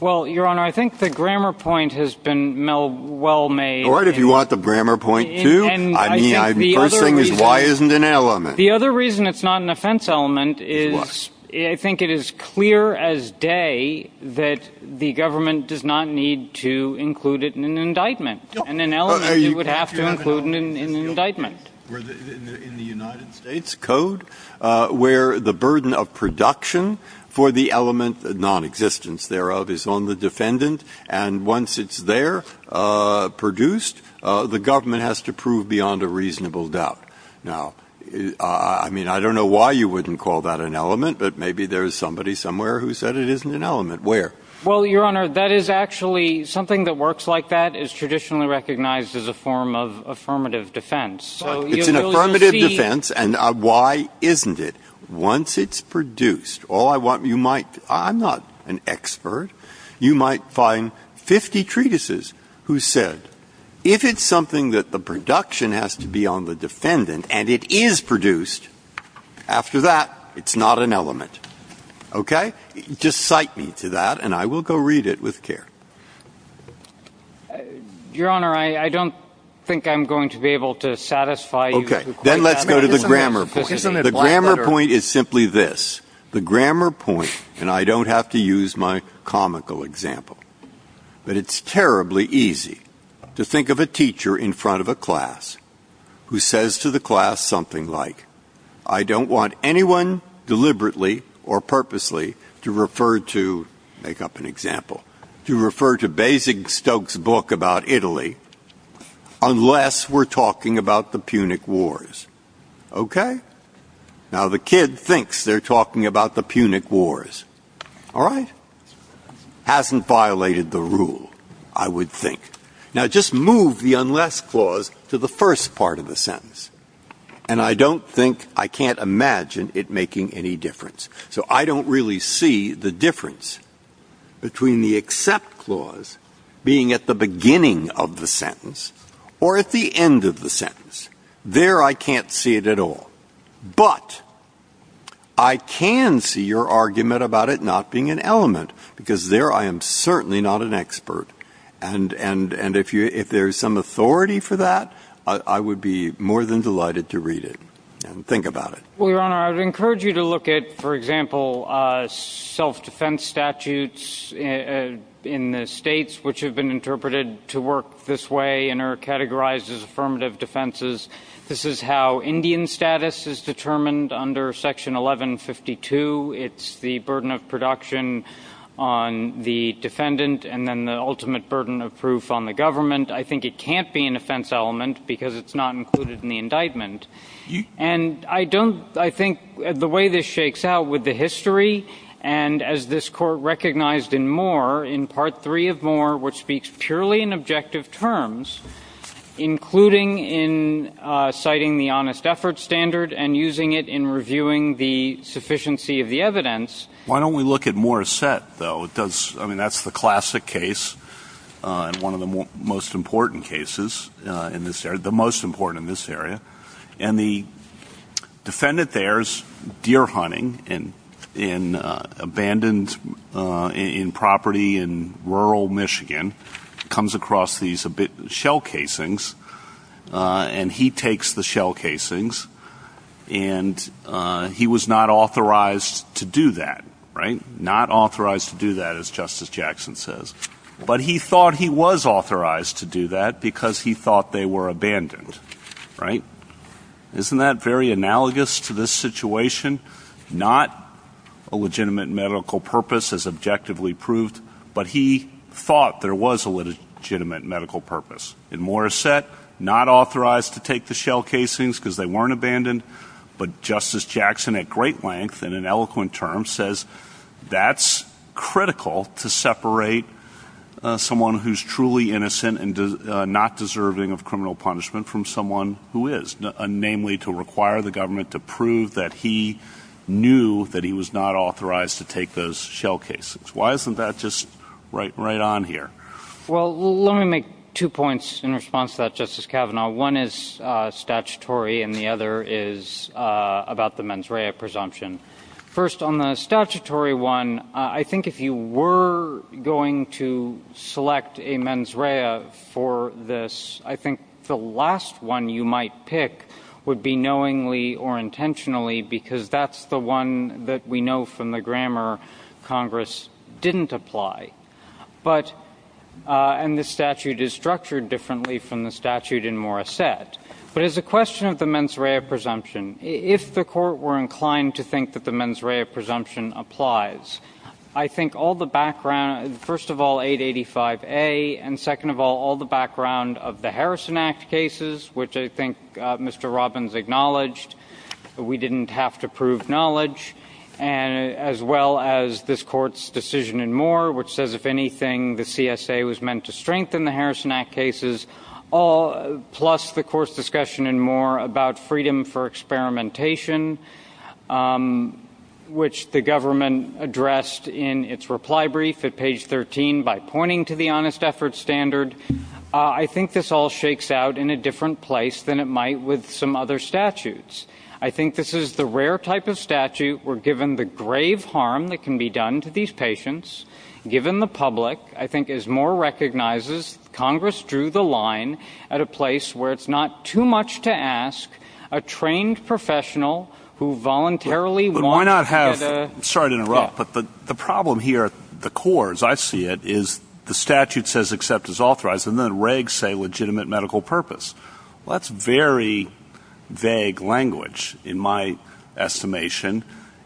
Well, Your Honor, I think the grammar point has been well made. All right. If you want the grammar point too, I mean, the first thing is, why isn't it an element? The other reason it's not an offense element is I think it is clear as day that the government does not need to include it in an indictment. In an element, it would have to include it in an indictment. In the United States Code, where the burden of production for the element of nonexistence thereof is on the defendant, and once it's there, produced, the government has to prove beyond a reasonable doubt. Now, I mean, I don't know why you wouldn't call that an element, but maybe there's somebody somewhere who said it isn't an element. Where? Well, Your Honor, that is actually, something that works like that is traditionally recognized as a form of affirmative defense. It's an affirmative defense, and why isn't it? Once it's produced, all I want, you might, I'm not an expert, you might find 50 treatises who said, if it's something that the production has to be on the defendant, and it is produced, after that, it's not an element. Okay? Just cite me to that, and I will go read it with care. Your Honor, I don't think I'm going to be able to satisfy you. Okay. Then let's go to the grammar point. The grammar point is simply this. The grammar point, and I don't have to use my comical example, but it's terribly easy to think of a teacher in front of a class who says to the class something like, I don't want anyone deliberately or purposely to refer to, make up an example, to refer to Basingstoke's book about Italy, unless we're talking about the Punic Wars. Okay? Now, the kid thinks they're talking about the Punic Wars. All right? Hasn't violated the rule, I would think. Now, just move the unless clause to the first part of the sentence, and I don't think, I can't imagine it making any difference. So I don't really see the difference between the except clause being at the beginning of the sentence or at the end of the sentence. There, I can't see it at all. But I can see your argument about it not being an element, because there I am certainly not an expert. And if there's some authority for that, I would be more than delighted to read it and think about it. Well, Your Honor, I would encourage you to look at, for example, self-defense statutes in the states which have been interpreted to work this way and are categorized as affirmative defenses. This is how Indian status is determined under Section 1152. It's the burden of production on the defendant, and then the ultimate burden of proof on the government. I think it can't be an offense element, because it's not included in the indictment. And I don't, I think the way this shakes out with the history, and as this Court recognized in Moore, in Part 3 of Moore, which speaks purely in objective terms, including in citing the honest effort standard and using it in reviewing the sufficiency of the evidence. Why don't we look at Moore's set, though? It does, I mean, that's the classic case and one of the most important cases in this area, the most important in this area. And the defendant there is deer hunting in abandoned property in rural Michigan, comes across these shell casings, and he takes the shell casings, and he was not authorized to do that, right? Not authorized to do that, as Justice Jackson says. But he thought he was authorized to do that, because he thought they were abandoned, right? Isn't that very analogous to this situation? Not a legitimate medical purpose, as objectively proved, but he thought there was a legitimate medical purpose. In Moore's set, not authorized to take the shell casings, because they weren't abandoned, but Justice Jackson, at great length and in eloquent terms, says that's critical to separate someone who's truly innocent and not deserving of criminal punishment from someone who is, namely to require the government to prove that he knew that he was not authorized to take those shell casings. Why isn't that just right on here? Well, let me make two points in response to that, Justice Kavanaugh. One is statutory, and the other is about the mens rea presumption. First, on the statutory one, I think if you were going to select a mens rea for this, I think the last one you might pick would be knowingly or intentionally, because that's the one that we know from the grammar Congress didn't apply. But, and the statute is structured differently from the statute in Moore's set. But as a question of the mens rea presumption, if the court were inclined to think that the mens rea presumption applies, I think all the background, first of all, 885A, and second of all, all the background of the Harrison Act cases, which I think Mr. Robbins acknowledged, we didn't have to prove knowledge, as well as this court's decision in Moore, which says if anything, the CSA was meant to strengthen the Harrison Act cases, plus the court's discussion in Moore about freedom for experimentation, which the government addressed in its reply brief at page 13 by pointing to the honest effort standard. I think this all shakes out in a different place than it might with some other statutes. I think this is the rare type of statute where, given the grave harm that can be done to these patients, given the public, I think as Moore recognizes, Congress drew the line at a place where it's not too much to ask a trained professional who voluntarily wanted to... But why not have... Sorry to interrupt, but the problem here, the core, as I see it, is the statute says and then regs say legitimate medical purpose. That's very vague language, in my estimation,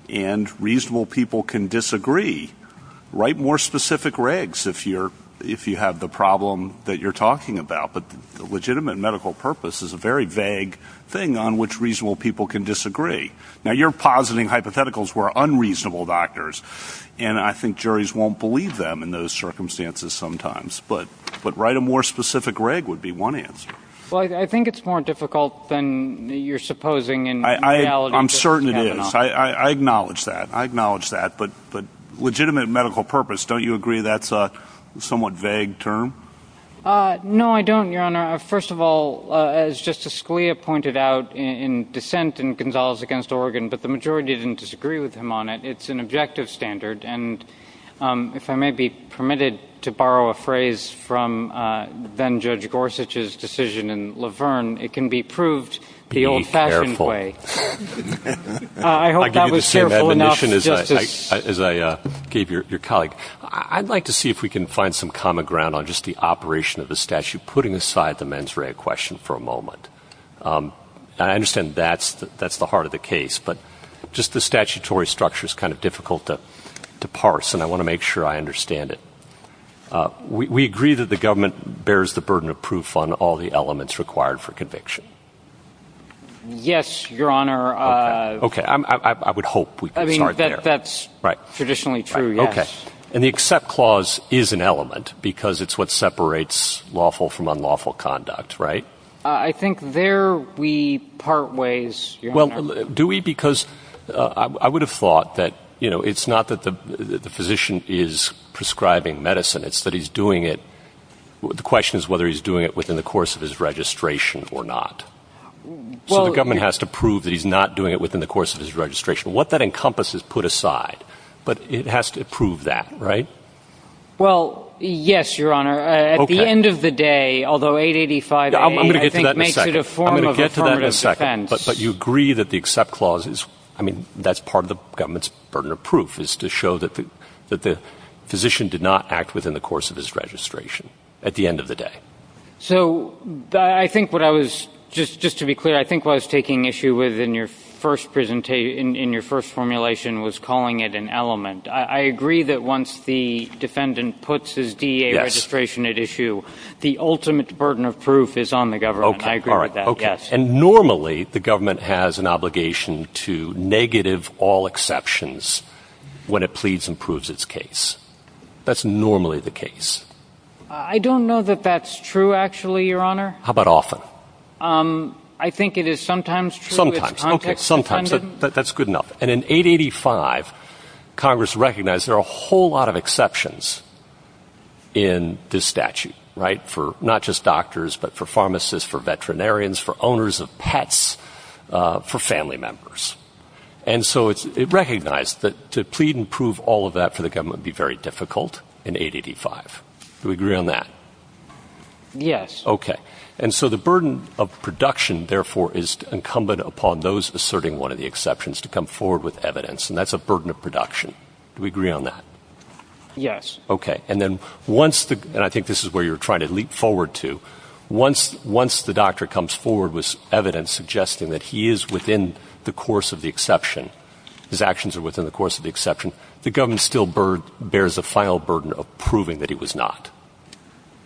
and reasonable people can disagree. Write more specific regs if you have the problem that you're talking about, but legitimate medical purpose is a very vague thing on which reasonable people can disagree. Now, you're positing hypotheticals who are unreasonable doctors, and I think juries won't believe them in those circumstances sometimes, but write a more specific reg would be one answer. Well, I think it's more difficult than you're supposing in the reality of what's happening. I'm certain it is. I acknowledge that. I acknowledge that, but legitimate medical purpose, don't you agree that's a somewhat vague term? No, I don't, Your Honor. First of all, as Justice Scalia pointed out in dissent in Gonzalez against Oregon, but the majority didn't disagree with him on it. It's an objective standard, and if I may be permitted to borrow a phrase from then Judge Gorsuch's decision in Laverne, it can be proved the old-fashioned way. Be careful. I hope that was careful enough for Justice. As I gave your colleague, I'd like to see if we can find some common ground on just the operation of the statute, putting aside the mens rea question for a moment. I understand that's the heart of the case, but just the statutory structure is kind of difficult to parse, and I want to make sure I understand it. We agree that the government bears the burden of proof on all the elements required for conviction. Yes, Your Honor. Okay. I would hope we could charge there. That's traditionally true, yes. Okay. And the accept clause is an element because it's what separates lawful from unlawful conduct, right? I think there we part ways, Your Honor. Do we? Because I would have thought that, you know, it's not that the physician is prescribing medicine. It's that he's doing it, the question is whether he's doing it within the course of his registration or not. So the government has to prove that he's not doing it within the course of his registration. What that encompasses put aside, but it has to prove that, right? Well, yes, Your Honor. At the end of the day, although 885A, I think, makes it a form of affirmative defense. I'm going to get to that in a second. But you agree that the accept clause is, I mean, that's part of the government's burden of proof is to show that the physician did not act within the course of his registration at the end of the day. So I think what I was, just to be clear, I think what I was taking issue with in your first formulation was calling it an element. I agree that once the defendant puts his DEA registration at issue, the ultimate burden of proof is on the government. I agree with that. Yes. And normally the government has an obligation to negative all exceptions when it pleads and proves its case. That's normally the case. I don't know that that's true, actually, Your Honor. How about often? I think it is sometimes true. Sometimes. Okay. Sometimes. That's good enough. And in 885, Congress recognized there are a whole lot of exceptions in this statute, right? For not just doctors, but for pharmacists, for veterinarians, for owners of pets, for family members. And so it recognized that to plead and prove all of that for the government would be very difficult in 885. Do you agree on that? Yes. Okay. And so the burden of production, therefore, is incumbent upon those asserting one of the And that's a burden of production. Do we agree on that? Yes. Okay. And then once the, and I think this is where you're trying to leap forward to, once the doctor comes forward with evidence suggesting that he is within the course of the exception, his actions are within the course of the exception, the government still bears the final burden of proving that he was not.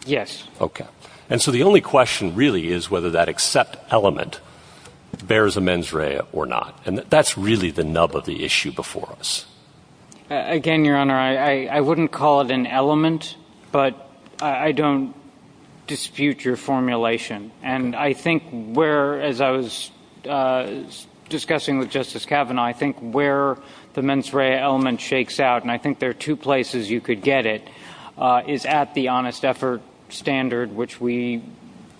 Yes. Okay. And so the only question really is whether that except element bears a mens rea or not. And that's really the nub of the issue before us. Again, your honor, I wouldn't call it an element, but I don't dispute your formulation. And I think where, as I was discussing with justice Kavanaugh, I think where the mens rea element shakes out, and I think there are two places you could get it, is at the honest effort standard, which we,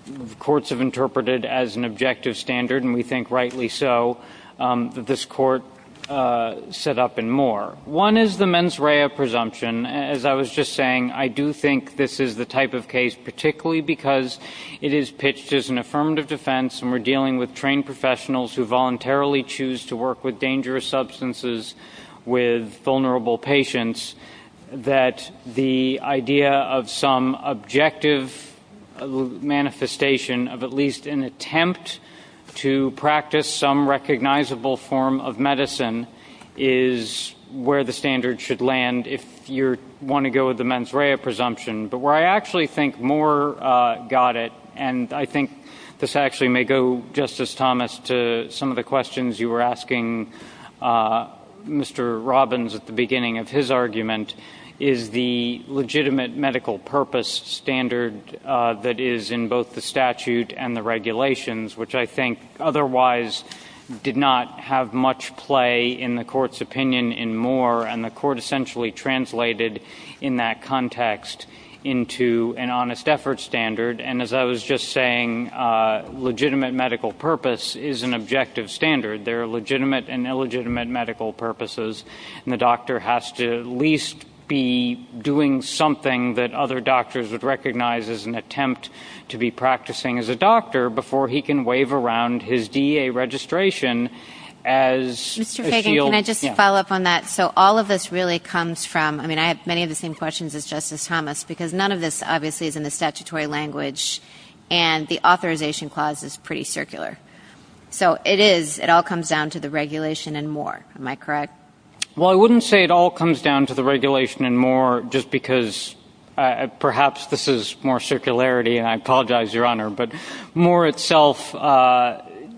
the courts have interpreted as an objective standard. And we think rightly so, that this court set up and more. One is the mens rea presumption, as I was just saying, I do think this is the type of case, particularly because it is pitched as an affirmative defense, and we're dealing with trained professionals who voluntarily choose to work with dangerous substances with vulnerable patients, that the idea of some objective manifestation of at least an attempt to practice some recognizable form of medicine is where the standard should land if you want to go with the mens rea presumption. But where I actually think more got it, and I think this actually may go, Justice Thomas, to some of the questions you were asking Mr. Robbins at the beginning of his argument, is the legitimate medical purpose standard that is in both the statute and the regulations, which I think otherwise did not have much play in the court's opinion in more, and the court essentially translated in that context into an honest effort standard, and as I was just saying, legitimate medical purpose is an objective standard. There are legitimate and illegitimate medical purposes, and the doctor has to at least be doing something that other doctors would recognize as an attempt to be practicing as a doctor before he can wave around his DEA registration as a shield. Mr. Fagan, can I just follow up on that? So all of this really comes from, I mean, I have many of the same questions as Justice Thomas, because none of this obviously is in the statutory language, and the authorization clause is pretty circular. So it is, it all comes down to the regulation and more, am I correct? Well, I wouldn't say it all comes down to the regulation and more just because perhaps this is more circularity, and I apologize, Your Honor, but more itself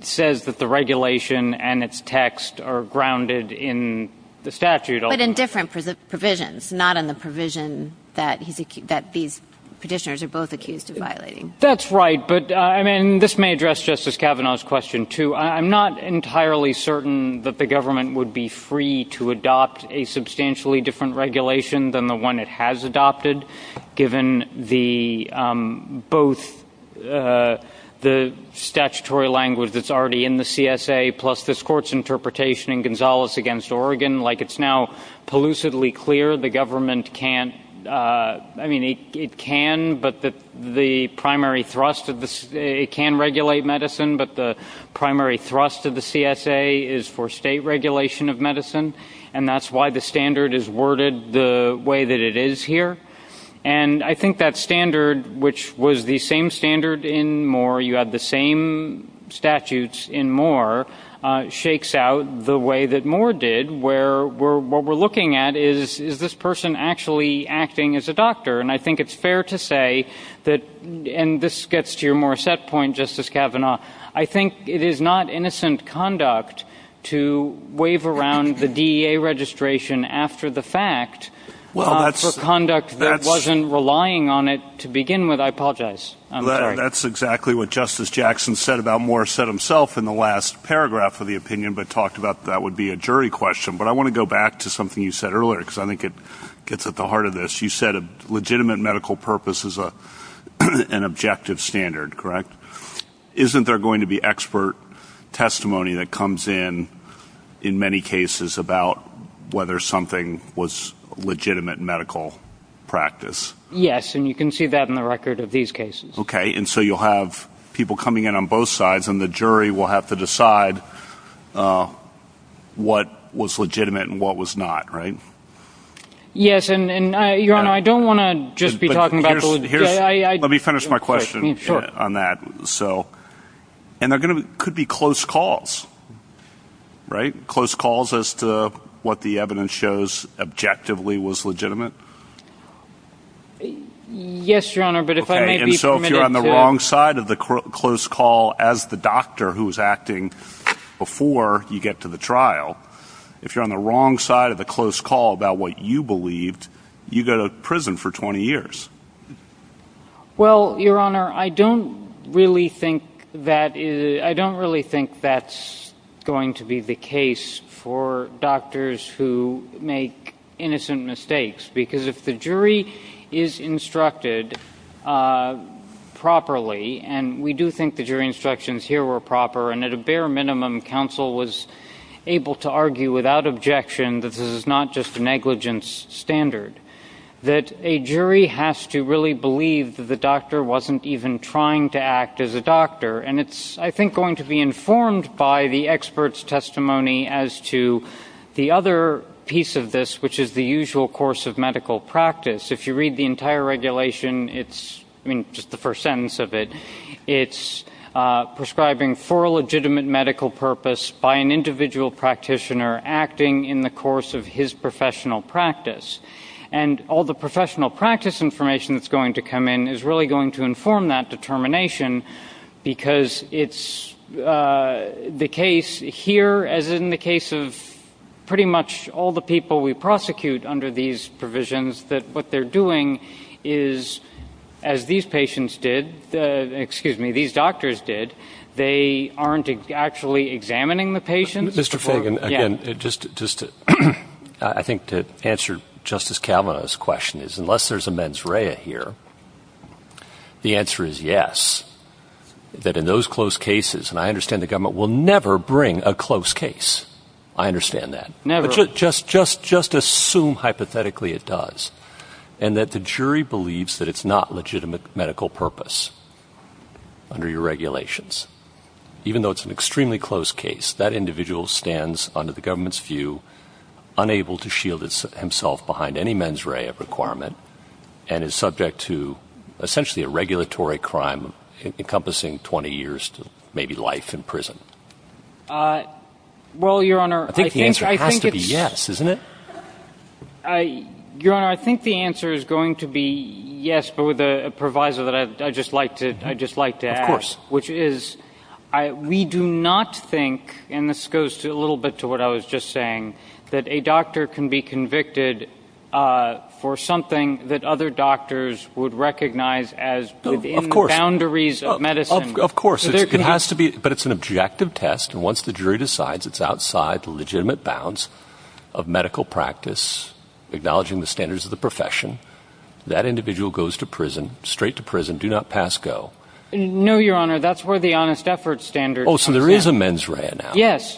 says that the regulation and its text are grounded in the statute. But in different provisions, not in the provision that these petitioners are both accused of violating. That's right, but I mean, this may address Justice Kavanaugh's question too. I'm not entirely certain that the government would be free to adopt a substantially different regulation than the one it has adopted, given both the statutory language that's already in the CSA plus this Court's interpretation in Gonzales v. Oregon. Like it's now pollucively clear the government can't, I mean, it can, but the primary thrust of the, it can regulate medicine, but the primary thrust of the CSA is for state regulation of medicine, and that's why the standard is worded the way that it is here. And I think that standard, which was the same standard in more, you had the same statutes in more, shakes out the way that more did, where we're, what we're looking at is, is this person actually acting as a doctor? And I think it's fair to say that, and this gets to your more set point, Justice Kavanaugh, I think it is not innocent conduct to wave around the DEA registration after the fact for conduct that wasn't relying on it to begin with. I apologize. I'm sorry. That's exactly what Justice Jackson said about more set himself in the last paragraph of the opinion, but talked about that would be a jury question. But I want to go back to something you said earlier, because I think it gets at the heart of this. You said a legitimate medical purpose is an objective standard, correct? Isn't there going to be expert testimony that comes in, in many cases, about whether something was legitimate medical practice? Yes. And you can see that in the record of these cases. Okay. And so you'll have people coming in on both sides, and the jury will have to decide what was legitimate and what was not, right? Yes. And, Your Honor, I don't want to just be talking about the... Let me finish my question on that. And there could be close calls, right? Close calls as to what the evidence shows objectively was legitimate? Yes, Your Honor, but if I may be permitted to... Okay. And so if you're on the wrong side of the close call as the doctor who was acting before you get to the trial, if you're on the wrong side of the close call about what you believed, you go to prison for 20 years. Well, Your Honor, I don't really think that's going to be the case for doctors who make innocent mistakes, because if the jury is instructed properly, and we do think the jury instructions here were proper, and at a bare minimum, counsel was able to argue without objection that this is not just a negligence standard, that a jury has to really believe that the doctor wasn't even trying to act as a doctor. And it's, I think, going to be informed by the expert's testimony as to the other piece of this, which is the usual course of medical practice. If you read the entire regulation, it's... I mean, just the first sentence of it, it's prescribing for a legitimate medical purpose by an individual practitioner acting in the course of his professional practice. And all the professional practice information that's going to come in is really going to inform that determination, because it's the case here, as in the case of pretty much all the people we prosecute under these provisions, that what they're doing is, as these patients did, excuse me, these doctors did, they aren't actually examining the patient. Mr. Fagan, again, just to... I think to answer Justice Kavanaugh's question is, unless there's a mens rea here, the answer is yes, that in those close cases, and I understand the government will never bring a close case, I understand that, but just assume hypothetically it does, and that the jury believes that it's not legitimate medical purpose under your regulations. Even though it's an extremely close case, that individual stands, under the government's view, unable to shield himself behind any mens rea requirement, and is subject to essentially a regulatory crime encompassing 20 years to maybe life in prison. Well, Your Honor, I think it's... I think the answer has to be yes, isn't it? Your Honor, I think the answer is going to be yes, but with a proviso that I'd just like to add, which is, we do not think, and this goes a little bit to what I was just saying, that a doctor can be convicted for something that other doctors would recognize as within the boundaries of medicine. Of course, it has to be, but it's an objective test, and once the jury decides it's outside the legitimate bounds of medical practice, acknowledging the standards of the profession, that individual goes to prison, straight to prison, do not pass go. No, Your Honor, that's where the honest effort standard... Oh, so there is a mens rea now. Yes,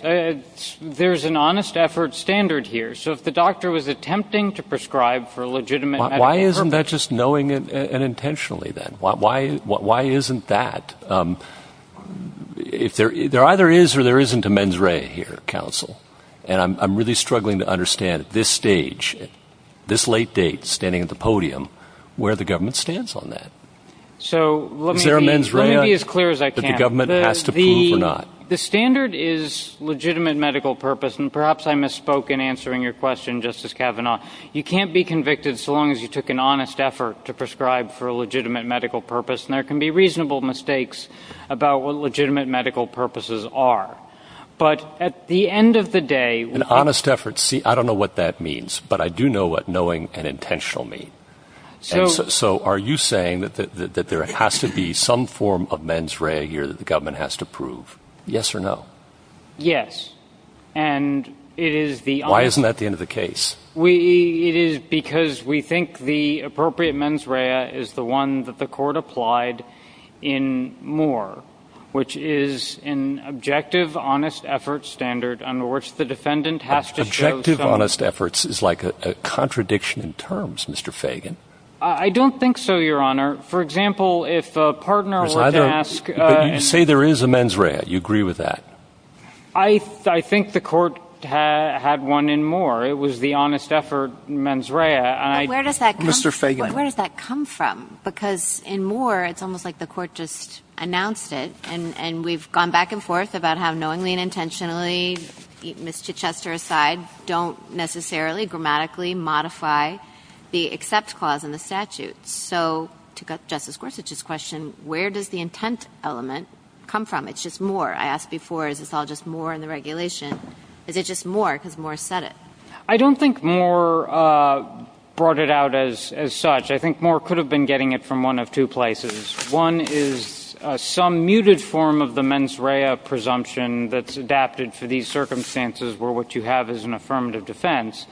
there's an honest effort standard here, so if the doctor was attempting to prescribe for a legitimate medical purpose... Why isn't that just knowing it unintentionally, then? Why isn't that? There either is or there isn't a mens rea here, counsel, and I'm really struggling to understand at this stage, at this late date, standing at the podium, where the government stands on that. Is there a mens rea that the government has to prove or not? The standard is legitimate medical purpose, and perhaps I misspoke in answering your question, Justice Kavanaugh. You can't be convicted so long as you took an honest effort to prescribe for a legitimate medical purpose, and there can be reasonable mistakes about what legitimate medical purposes are, but at the end of the day... An honest effort, see, I don't know what that means, but I do know what knowing and intentional mean. So... So are you saying that there has to be some form of mens rea here that the government has to prove? Yes or no? Yes, and it is the... Why isn't that the end of the case? We... It is because we think the appropriate mens rea is the one that the court applied in Moore, which is an objective, honest effort standard under which the defendant has to show... Objective, honest efforts is like a contradiction in terms, Mr. Fagan. I don't think so, Your Honor. For example, if a partner were to ask... But you say there is a mens rea. You agree with that? I think the court had one in Moore. It was the honest effort mens rea. I... Where does that come from? Mr. Fagan. Where does that come from? Because in Moore, it's almost like the court just announced it, and we've gone back and forth about how knowingly and intentionally, Mr. Chester aside, don't necessarily grammatically modify the except clause in the statute. So to Justice Gorsuch's question, where does the intent element come from? It's just Moore. I asked before, is this all just Moore in the regulation? Is it just Moore? Because Moore said it. I don't think Moore brought it out as such. I think Moore could have been getting it from one of two places. One is some muted form of the mens rea presumption that's adapted for these circumstances where what you have is an affirmative defense.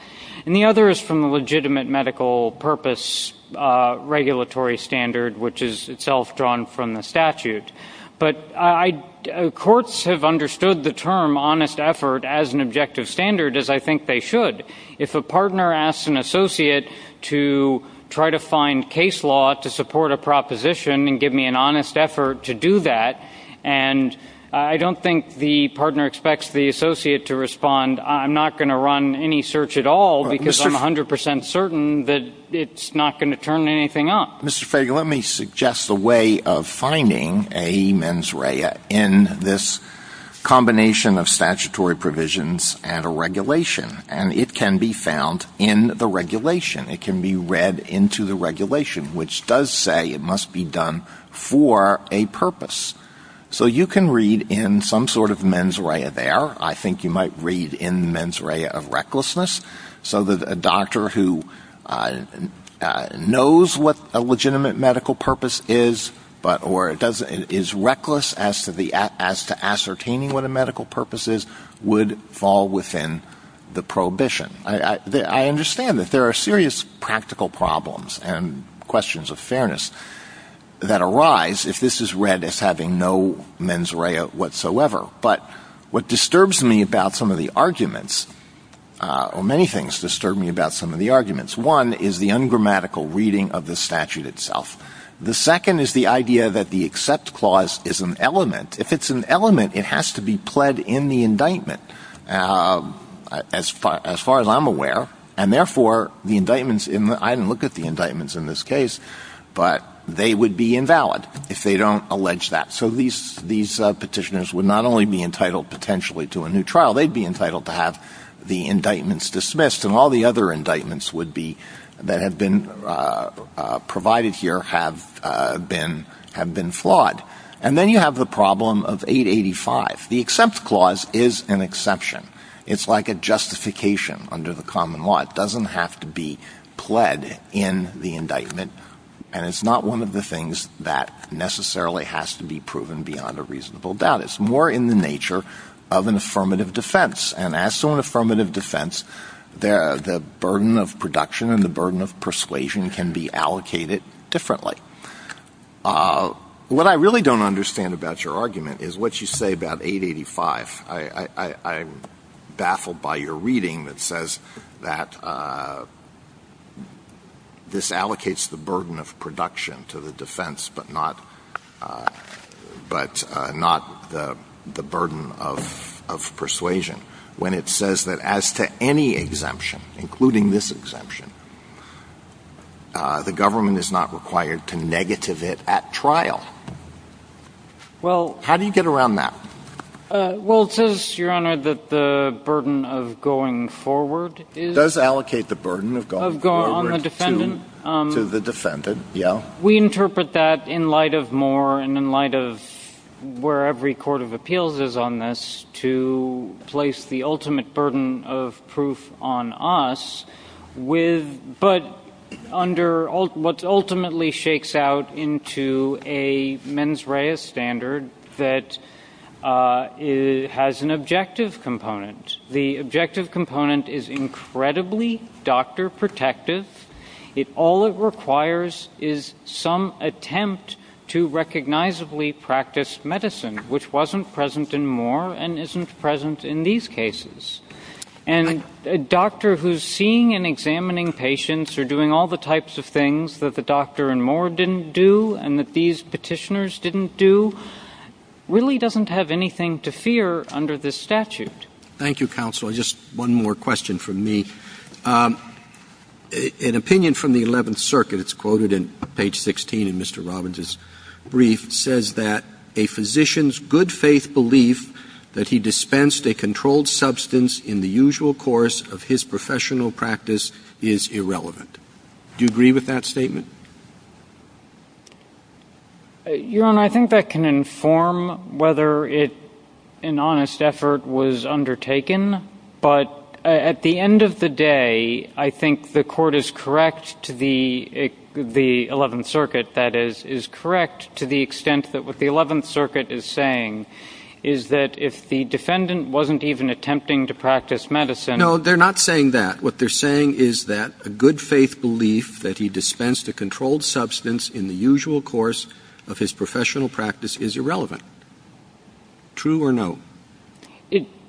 And the other is from the legitimate medical purpose regulatory standard, which is itself drawn from the statute. Right. But courts have understood the term honest effort as an objective standard, as I think they should. If a partner asks an associate to try to find case law to support a proposition and give me an honest effort to do that, and I don't think the partner expects the associate to respond, I'm not going to run any search at all because I'm 100% certain that it's not going to turn anything up. Mr. Fraga, let me suggest a way of finding a mens rea in this combination of statutory provisions and a regulation. And it can be found in the regulation. It can be read into the regulation, which does say it must be done for a purpose. So you can read in some sort of mens rea there. I think you might read in the mens rea of recklessness. So that a doctor who knows what a legitimate medical purpose is, or is reckless as to ascertaining what a medical purpose is, would fall within the prohibition. I understand that there are serious practical problems and questions of fairness that arise if this is read as having no mens rea whatsoever. But what disturbs me about some of the arguments, or many things disturb me about some of the arguments, one is the ungrammatical reading of the statute itself. The second is the idea that the accept clause is an element. If it's an element, it has to be pled in the indictment, as far as I'm aware. And therefore, the indictments, I haven't looked at the indictments in this case, but they would be invalid if they don't allege that. So these petitioners would not only be entitled potentially to a new trial, they'd be entitled to have the indictments dismissed, and all the other indictments that have been provided here have been flawed. And then you have the problem of 885. The accept clause is an exception. It's like a justification under the common law. It doesn't have to be pled in the indictment, and it's not one of the things that necessarily has to be proven beyond a reasonable doubt. It's more in the nature of an affirmative defense. And as to an affirmative defense, the burden of production and the burden of persuasion can be allocated differently. What I really don't understand about your argument is what you say about 885. I'm baffled by your reading that says that this allocates the burden of production to the defense, but not the burden of persuasion, when it says that as to any exemption, including this exemption, the government is not required to negative it at trial. How do you get around that? Well, it says, Your Honor, that the burden of going forward is... Does allocate the burden of going forward to the defendant, yeah. We interpret that in light of Moore and in light of where every court of appeals is on this to place the ultimate burden of proof on us, but under what ultimately shakes out into a mens rea standard that has an objective component. The objective component is incredibly doctor protective. All it requires is some attempt to recognizably practice medicine, which wasn't present in Moore and isn't present in these cases. And a doctor who's seeing and examining patients or doing all the types of things that the doctor in Moore didn't do and that these petitioners didn't do really doesn't have anything to fear under this statute. Thank you, counsel. Just one more question from me. An opinion from the 11th circuit, it's quoted in page 16 in Mr. Robbins' brief, says that a physician's good faith belief that he dispensed a controlled substance in the usual course of his professional practice is irrelevant. Do you agree with that statement? Your Honor, I think that can inform whether an honest effort was undertaken, but at the end of the day, I think the court is correct to the 11th circuit, that is, is correct to the extent that what the 11th circuit is saying is that if the defendant wasn't even attempting to practice medicine. No, they're not saying that. What they're saying is that a good faith belief that he dispensed a controlled substance in the usual course of his professional practice is irrelevant. True or no?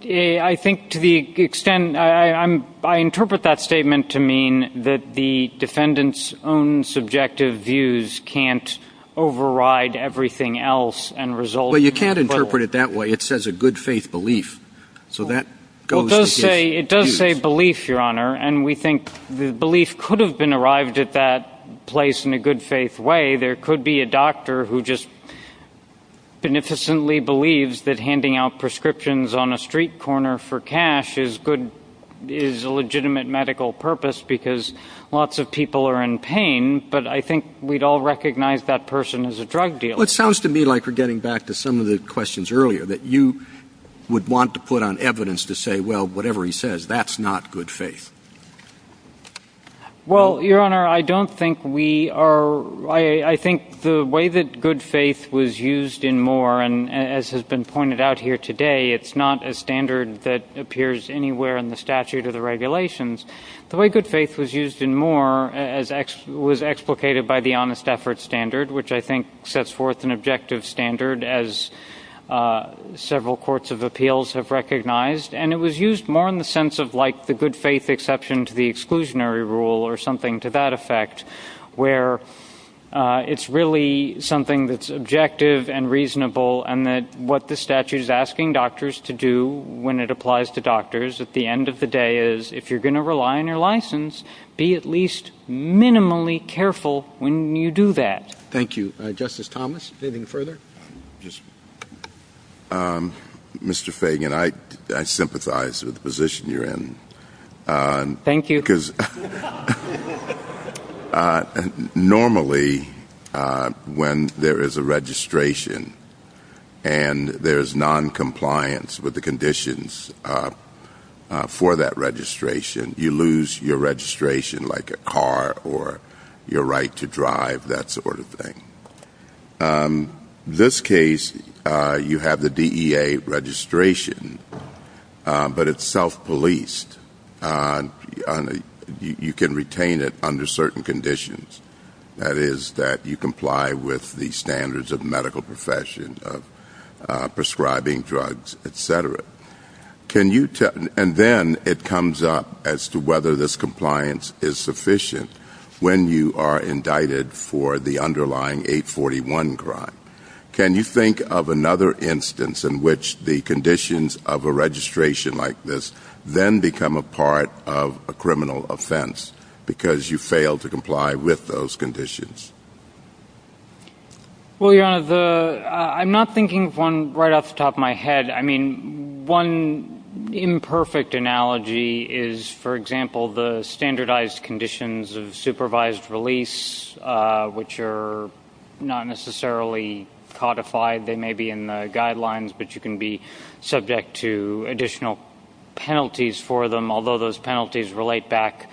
I think to the extent, I interpret that statement to mean that the defendant's own subjective views can't override everything else and result in- But you can't interpret it that way. It says a good faith belief. So that goes against- It does say belief, Your Honor, and we think the belief could have been arrived at that place in a good faith way. There could be a doctor who just beneficially believes that handing out prescriptions on a street corner for cash is a legitimate medical purpose because lots of people are in pain, but I think we'd all recognize that person as a drug dealer. Well, it sounds to me like we're getting back to some of the questions earlier that you would want to put on evidence to say, well, whatever he says, that's not good faith. Well, Your Honor, I don't think we are- I think the way that good faith was used in Moore and as has been pointed out here today, it's not a standard that appears anywhere in the statute of the regulations. The way good faith was used in Moore was explicated by the honest effort standard, which I think sets forth an objective standard as several courts of appeals have recognized, and it was used more in the sense of like the good faith exception to the exclusionary rule or something to that effect, where it's really something that's objective and reasonable and that what the statute is asking doctors to do when it applies to doctors at the end of the day is if you're going to rely on your license, be at least minimally careful when you do that. Thank you. Justice Thomas, anything further? Mr. Fagan, I sympathize with the position you're in. Thank you. Normally, when there is a registration and there's noncompliance with the conditions for that registration, you lose your registration like a car or your right to drive, that sort of thing. This case, you have the DEA registration, but it's self-policed. You can retain it under certain conditions, that is, that you comply with the standards of the medical profession, of prescribing drugs, et cetera. And then it comes up as to whether this compliance is sufficient when you are indicted for the underlying 841 crime. Can you think of another instance in which the conditions of a registration like this then become a part of a criminal offense because you fail to comply with those conditions? Well, Your Honor, I'm not thinking of one right off the top of my head. One imperfect analogy is, for example, the standardized conditions of supervised release, which are not necessarily codified. They may be in the guidelines, but you can be subject to additional penalties for them, although those penalties relate back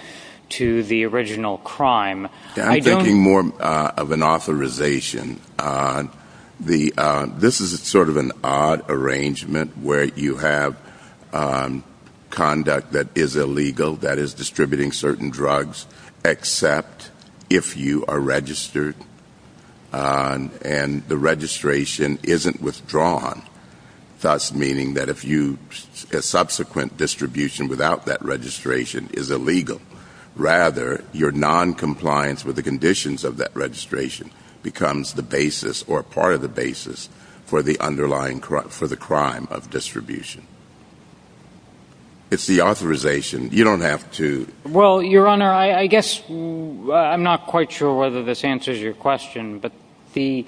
to the original crime. I'm thinking more of an authorization. This is sort of an odd arrangement where you have conduct that is illegal, that is, distributing certain drugs except if you are registered and the registration isn't withdrawn, thus meaning that a subsequent distribution without that registration is illegal. Rather, your noncompliance with the conditions of that registration becomes the basis or part of the basis for the underlying crime, for the crime of distribution. It's the authorization. You don't have to... Well, Your Honor, I guess I'm not quite sure whether this answers your question, but the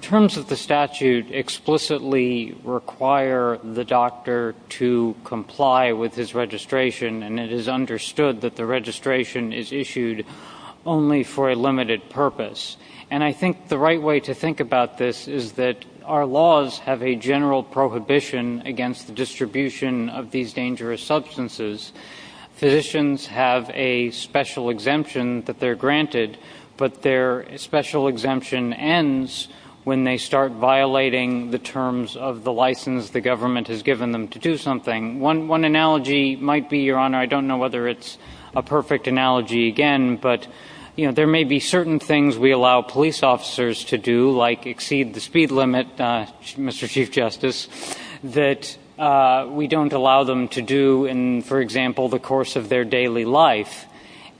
terms of the statute explicitly require the doctor to comply with his registration, and it is understood that the registration is issued only for a limited purpose. I think the right way to think about this is that our laws have a general prohibition against the distribution of these dangerous substances. Physicians have a special exemption that they're granted, but their special exemption ends when they start violating the terms of the license the government has given them to do something. One analogy might be, Your Honor, I don't know whether it's a perfect analogy again, but there may be certain things we allow police officers to do, like exceed the speed limit, Mr. Chief Justice, that we don't allow them to do in, for example, the course of their daily life.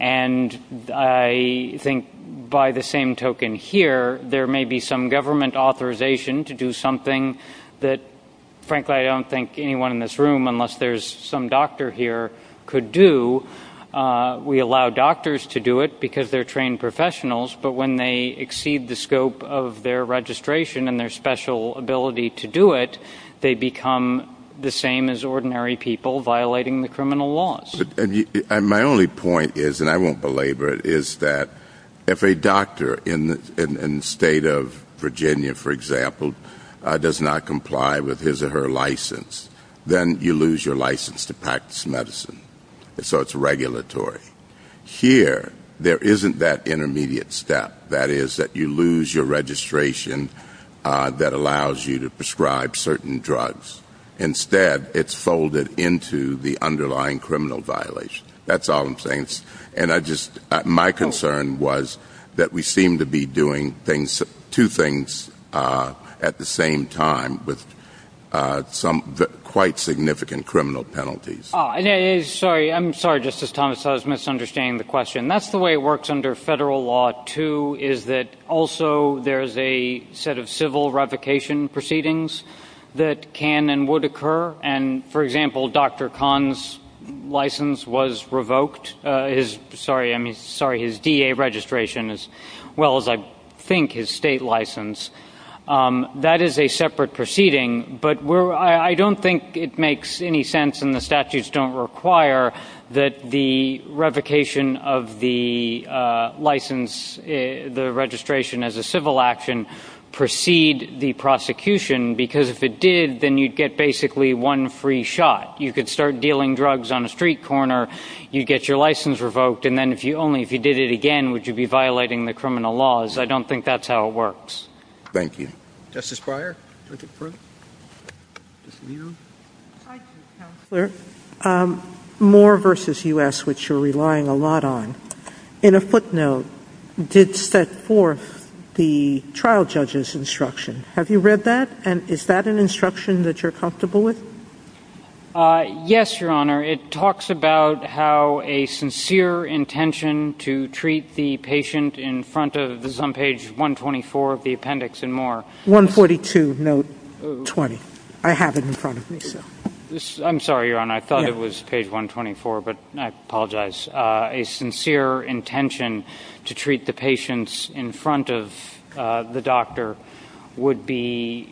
And I think by the same token here, there may be some government authorization to do something that, frankly, I don't think anyone in this room, unless there's some doctor here, could do. We allow doctors to do it because they're trained professionals, but when they exceed the scope of their registration and their special ability to do it, they become the same as ordinary people violating the criminal laws. My only point is, and I won't belabor it, is that if a doctor in the state of Virginia, for example, does not comply with his or her license, then you lose your license to practice medicine, so it's regulatory. Here, there isn't that intermediate step, that is, that you lose your registration that allows you to prescribe certain drugs. Instead, it's folded into the underlying criminal violation. That's all I'm saying. And I just, my concern was that we seem to be doing things, two things at the same time with some quite significant criminal penalties. Sorry, I'm sorry, Justice Thomas, I was misunderstanding the question. That's the way it works under federal law, too, is that also there's a set of civil revocation proceedings that can and would occur, and, for example, Dr. Kahn's license was revoked, his, sorry, I mean, sorry, his DA registration, as well as, I think, his state license. That is a separate proceeding, but we're, I don't think it makes any sense and the statutes don't require that the revocation of the license, the registration as a civil action, precede the prosecution, because if it did, then you'd get basically one free shot. You could start dealing drugs on a street corner, you'd get your license revoked, and then if you only, if you did it again, would you be violating the criminal laws. I don't think that's how it works. Thank you. Justice Breyer. Mr. Brewer. Hi, Mr. Counselor. Moore v. U.S., which you're relying a lot on, in a footnote, did set forth the trial judge's instruction. Have you read that, and is that an instruction that you're comfortable with? Yes, Your Honor. It talks about how a sincere intention to treat the patient in front of, this is on page 124 of the appendix in Moore. 142, note 20. I have it in front of me, so. I'm sorry, Your Honor. I thought it was page 124, but I apologize. A sincere intention to treat the patients in front of the doctor would be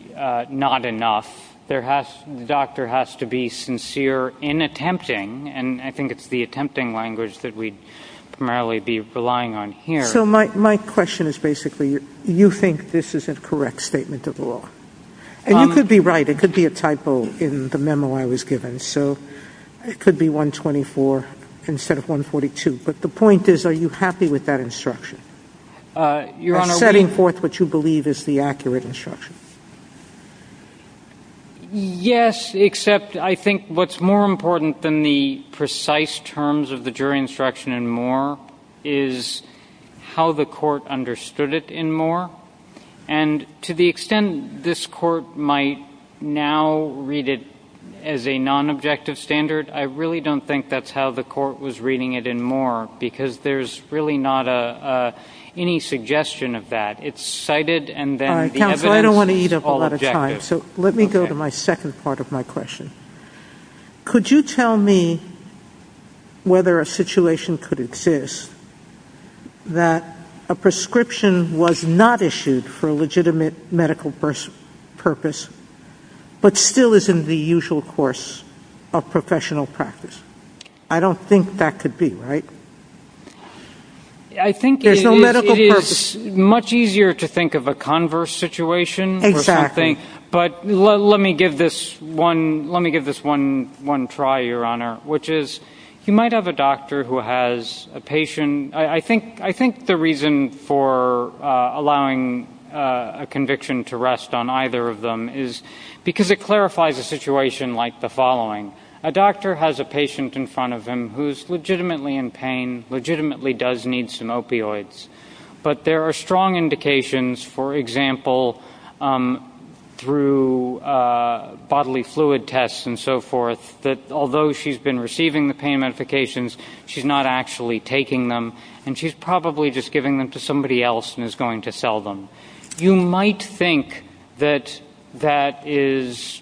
not enough. The doctor has to be sincere in attempting, and I think it's the attempting language that we'd primarily be relying on here. So, my question is basically, you think this is a correct statement of law? And you could be right, it could be a typo in the memo I was given, so it could be 124 instead of 142, but the point is, are you happy with that instruction? You're setting forth what you believe is the accurate instruction. Yes, except I think what's more important than the precise terms of the jury instruction in Moore is how the court understood it in Moore. And to the extent this court might now read it as a non-objective standard, I really don't think that's how the court was reading it in Moore, because there's really not any suggestion of that. It's cited, and then the evidence is all objective. All right, counsel, I don't want to eat up a lot of time, so let me go to my second part of my question. Could you tell me whether a situation could exist that a prescription was not issued for a legitimate medical purpose, but still is in the usual course of professional practice? I don't think that could be, right? I think it is much easier to think of a converse situation, but let me give this one try, Your Honor, which is you might have a doctor who has a patient. I think the reason for allowing a conviction to rest on either of them is because it clarifies a situation like the following. A doctor has a patient in front of him who is legitimately in pain, legitimately does need some opioids, but there are strong indications, for example, through bodily fluid tests and so forth, that although she's been receiving the pain medications, she's not actually taking them and she's probably just giving them to somebody else and is going to sell them. You might think that that is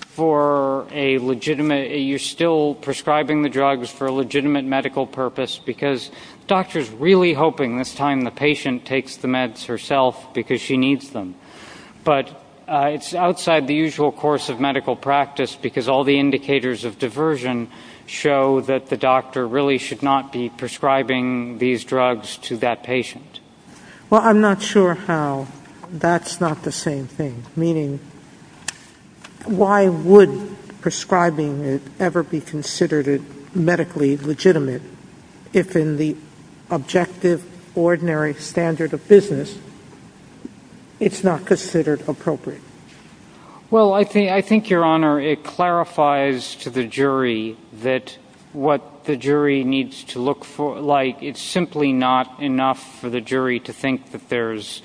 for a legitimate, you're still prescribing the drugs for a legitimate medical purpose because the doctor is really hoping this time the patient takes the meds herself because she needs them, but it's outside the usual course of medical practice because all the indicators of diversion show that the doctor really should not be prescribing these drugs to that patient. Well, I'm not sure how that's not the same thing, meaning why would prescribing it ever be considered medically legitimate if in the objective, ordinary standard of business it's not considered appropriate? Well, I think, Your Honor, it clarifies to the jury that what the jury needs to look for, like it's simply not enough for the jury to think that there's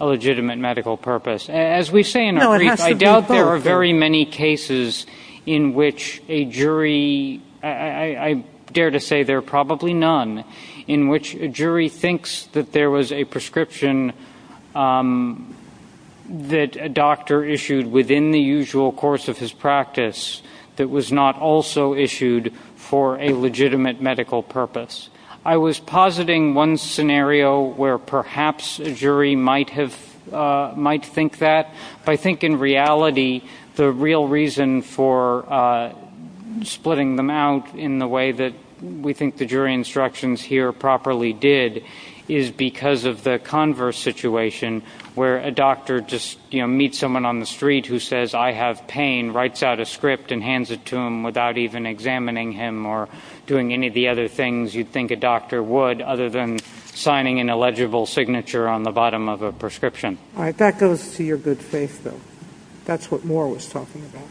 a legitimate medical purpose. As we say in our brief, I doubt there are very many cases in which a jury, I dare to say there are probably none, in which a jury thinks that there was a prescription that a doctor issued within the usual course of his practice that was not also issued for a legitimate medical purpose. I was positing one scenario where perhaps a jury might think that, but I think in reality the real reason for splitting them out in the way that we think the jury instructions here properly did is because of the converse situation where a doctor just meets someone on the street who says, I have pain, writes out a script and hands it to him without even examining him or doing any of the other things you'd think a doctor would other than signing an illegible signature on the bottom of a prescription. All right. That goes to your good faith, then. That's what Moore was talking about.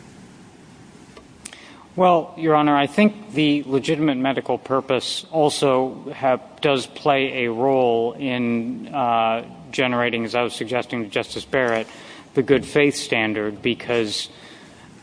Well, Your Honor, I think the legitimate medical purpose also does play a role in generating, as I was suggesting to Justice Barrett, the good faith standard because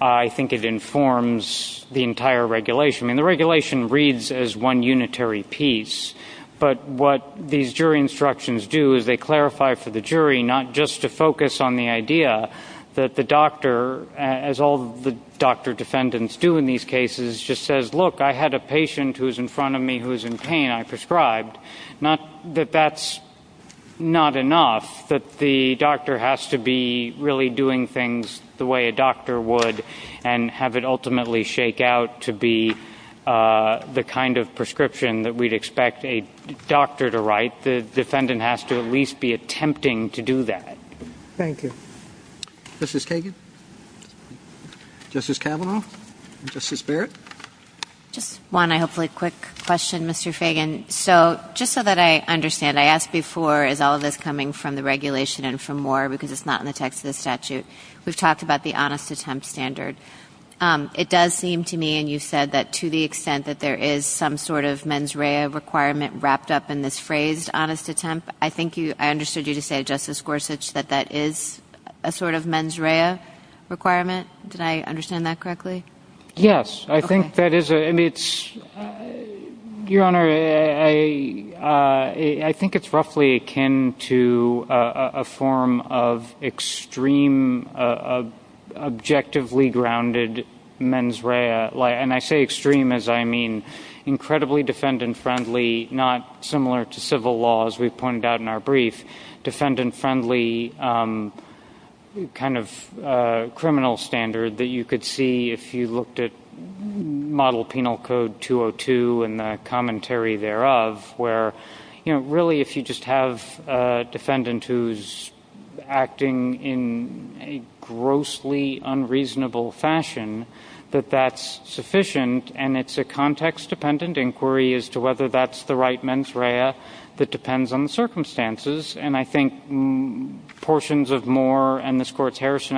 I think it informs the entire regulation. I mean, the regulation reads as one unitary piece, but what these jury instructions do is they clarify for the jury not just to focus on the idea that the doctor, as all the doctor defendants do in these cases, just says, look, I had a patient who was in front of me who was in pain. I prescribed. Not that that's not enough, but the doctor has to be really doing things the way a doctor would and have it ultimately shake out to be the kind of prescription that we'd expect a doctor to write. The defendant has to at least be attempting to do that. Thank you. Justice Kagan? Justice Kavanaugh? Justice Barrett? Just one, hopefully, quick question, Mr. Fagan. So just so that I understand, I asked before, is all of this coming from the regulation and from Moore because it's not in the text of the statute? We've talked about the honest attempt standard. It does seem to me, and you said that to the extent that there is some sort of mens rea requirement wrapped up in this phrase, honest attempt, I think I understood you to say, Justice Gorsuch, that that is a sort of mens rea requirement. Did I understand that correctly? Yes. I think that is, and it's, Your Honor, I think it's roughly akin to a form of extreme, objectively grounded mens rea, and I say extreme as I mean incredibly defendant-friendly, not similar to civil law as we pointed out in our brief, defendant-friendly kind of criminal standard that you could see if you looked at Model Penal Code 202 and the commentary thereof, where really if you just have a defendant who's acting in a grossly unreasonable fashion, that that's sufficient, and it's a context-dependent inquiry as to whether that's the right mens rea that depends on the circumstances, and I think portions of Moore and this Court's defense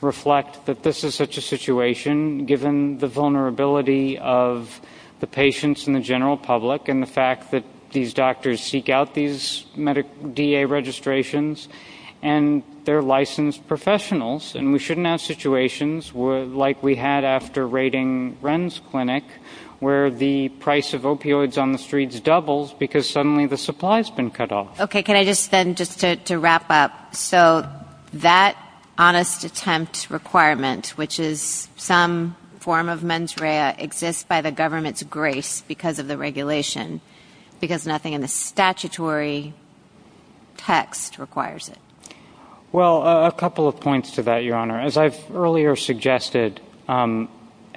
reflect that this is such a situation, given the vulnerability of the patients and the general public and the fact that these doctors seek out these DA registrations, and they're licensed professionals, and we shouldn't have situations like we had after raiding Wren's Clinic, where the price of opioids on the streets doubles because suddenly the supply's been cut off. Okay. Can I just then just to wrap up. So that honest attempt requirement, which is some form of mens rea, exists by the government's grace because of the regulation, because nothing in the statutory text requires it. Well, a couple of points to that, Your Honor. As I've earlier suggested, and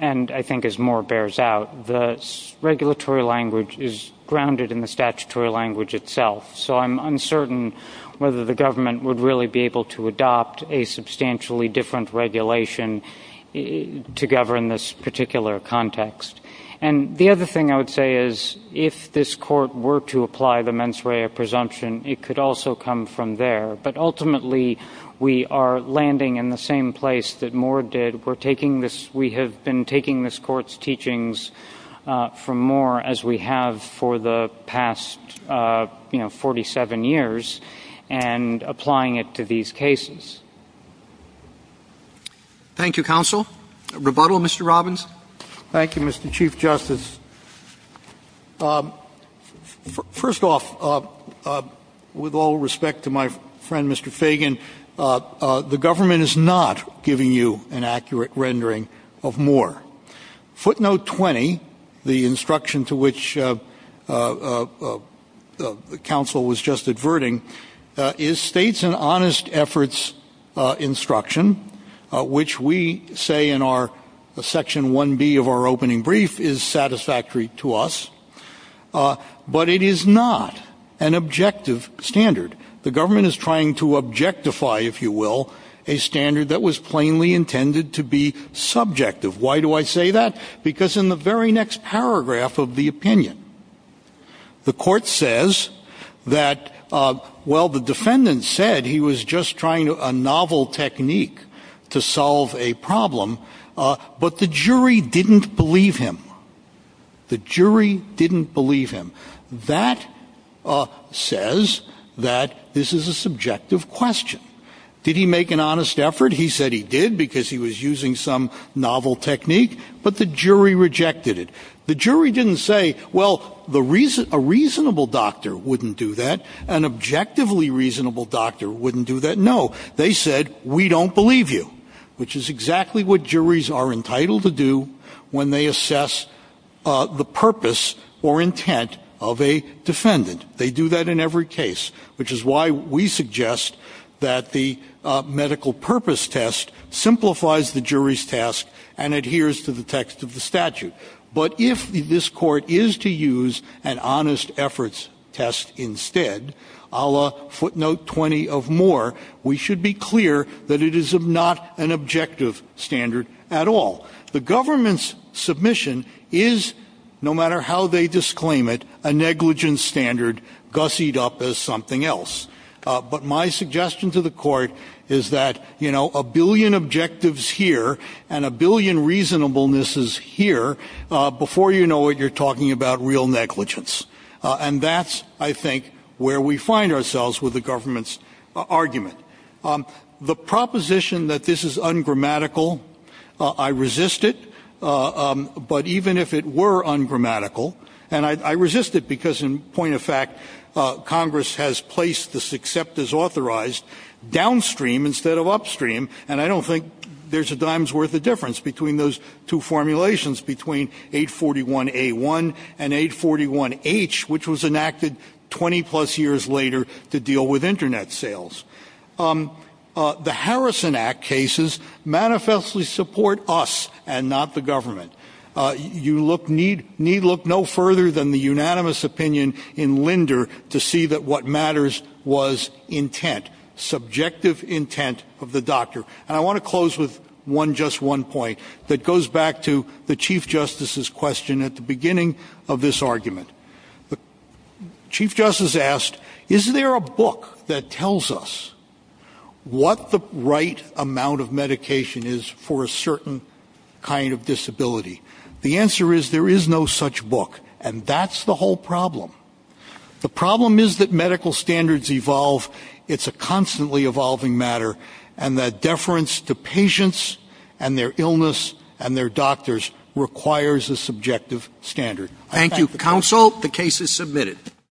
I think as Moore bears out, the regulatory language is grounded in the statutory language itself, so I'm uncertain whether the government would really be able to adopt a substantially different regulation to govern this particular context. And the other thing I would say is if this Court were to apply the mens rea presumption, it could also come from there, but ultimately we are landing in the same place that Moore did. We're taking this, we have been taking this Court's teachings from Moore as we have for the past, you know, 47 years and applying it to these cases. Thank you, Counsel. A rebuttal, Mr. Robbins? Thank you, Mr. Chief Justice. First off, with all respect to my friend, Mr. Fagan, the government is not giving you an accurate rendering of Moore. Footnote 20, the instruction to which Counsel was just adverting, is states an honest efforts instruction, which we say in our Section 1B of our opening brief is satisfactory to us, but it is not an objective standard. The government is trying to objectify, if you will, a standard that was plainly intended to be subjective. Why do I say that? Because in the very next paragraph of the opinion, the Court says that, well, the defendant said he was just trying a novel technique to solve a problem, but the jury didn't believe him. The jury didn't believe him. That says that this is a subjective question. Did he make an honest effort? He said he did because he was using some novel technique, but the jury rejected it. The jury didn't say, well, a reasonable doctor wouldn't do that. An objectively reasonable doctor wouldn't do that. No. They said, we don't believe you, which is exactly what juries are entitled to do when they assess the purpose or intent of a defendant. They do that in every case, which is why we suggest that the medical purpose test simplifies the jury's task and adheres to the text of the statute. But if this Court is to use an honest efforts test instead, a la footnote 20 of Moore, we should be clear that it is not an objective standard at all. The government's submission is, no matter how they disclaim it, a negligence standard gussied up as something else. But my suggestion to the Court is that a billion objectives here and a billion reasonableness is here before you know it, you're talking about real negligence. And that's, I think, where we find ourselves with the government's argument. The proposition that this is ungrammatical, I resist it. But even if it were ungrammatical, and I resist it because, in point of fact, Congress has placed this except as authorized downstream instead of upstream, and I don't think there's a dime's worth of difference between those two formulations, between 841A1 and 841H, which was enacted 20 plus years later to deal with internet sales. The Harrison Act cases manifestly support us and not the government. You need look no further than the unanimous opinion in Linder to see that what matters was intent, subjective intent of the doctor. And I want to close with just one point that goes back to the Chief Justice's question at the beginning of this argument. Chief Justice asked, is there a book that tells us what the right amount of medication is for a certain kind of disability? The answer is there is no such book, and that's the whole problem. The problem is that medical standards evolve, it's a constantly evolving matter, and that Thank you, counsel. The case is submitted.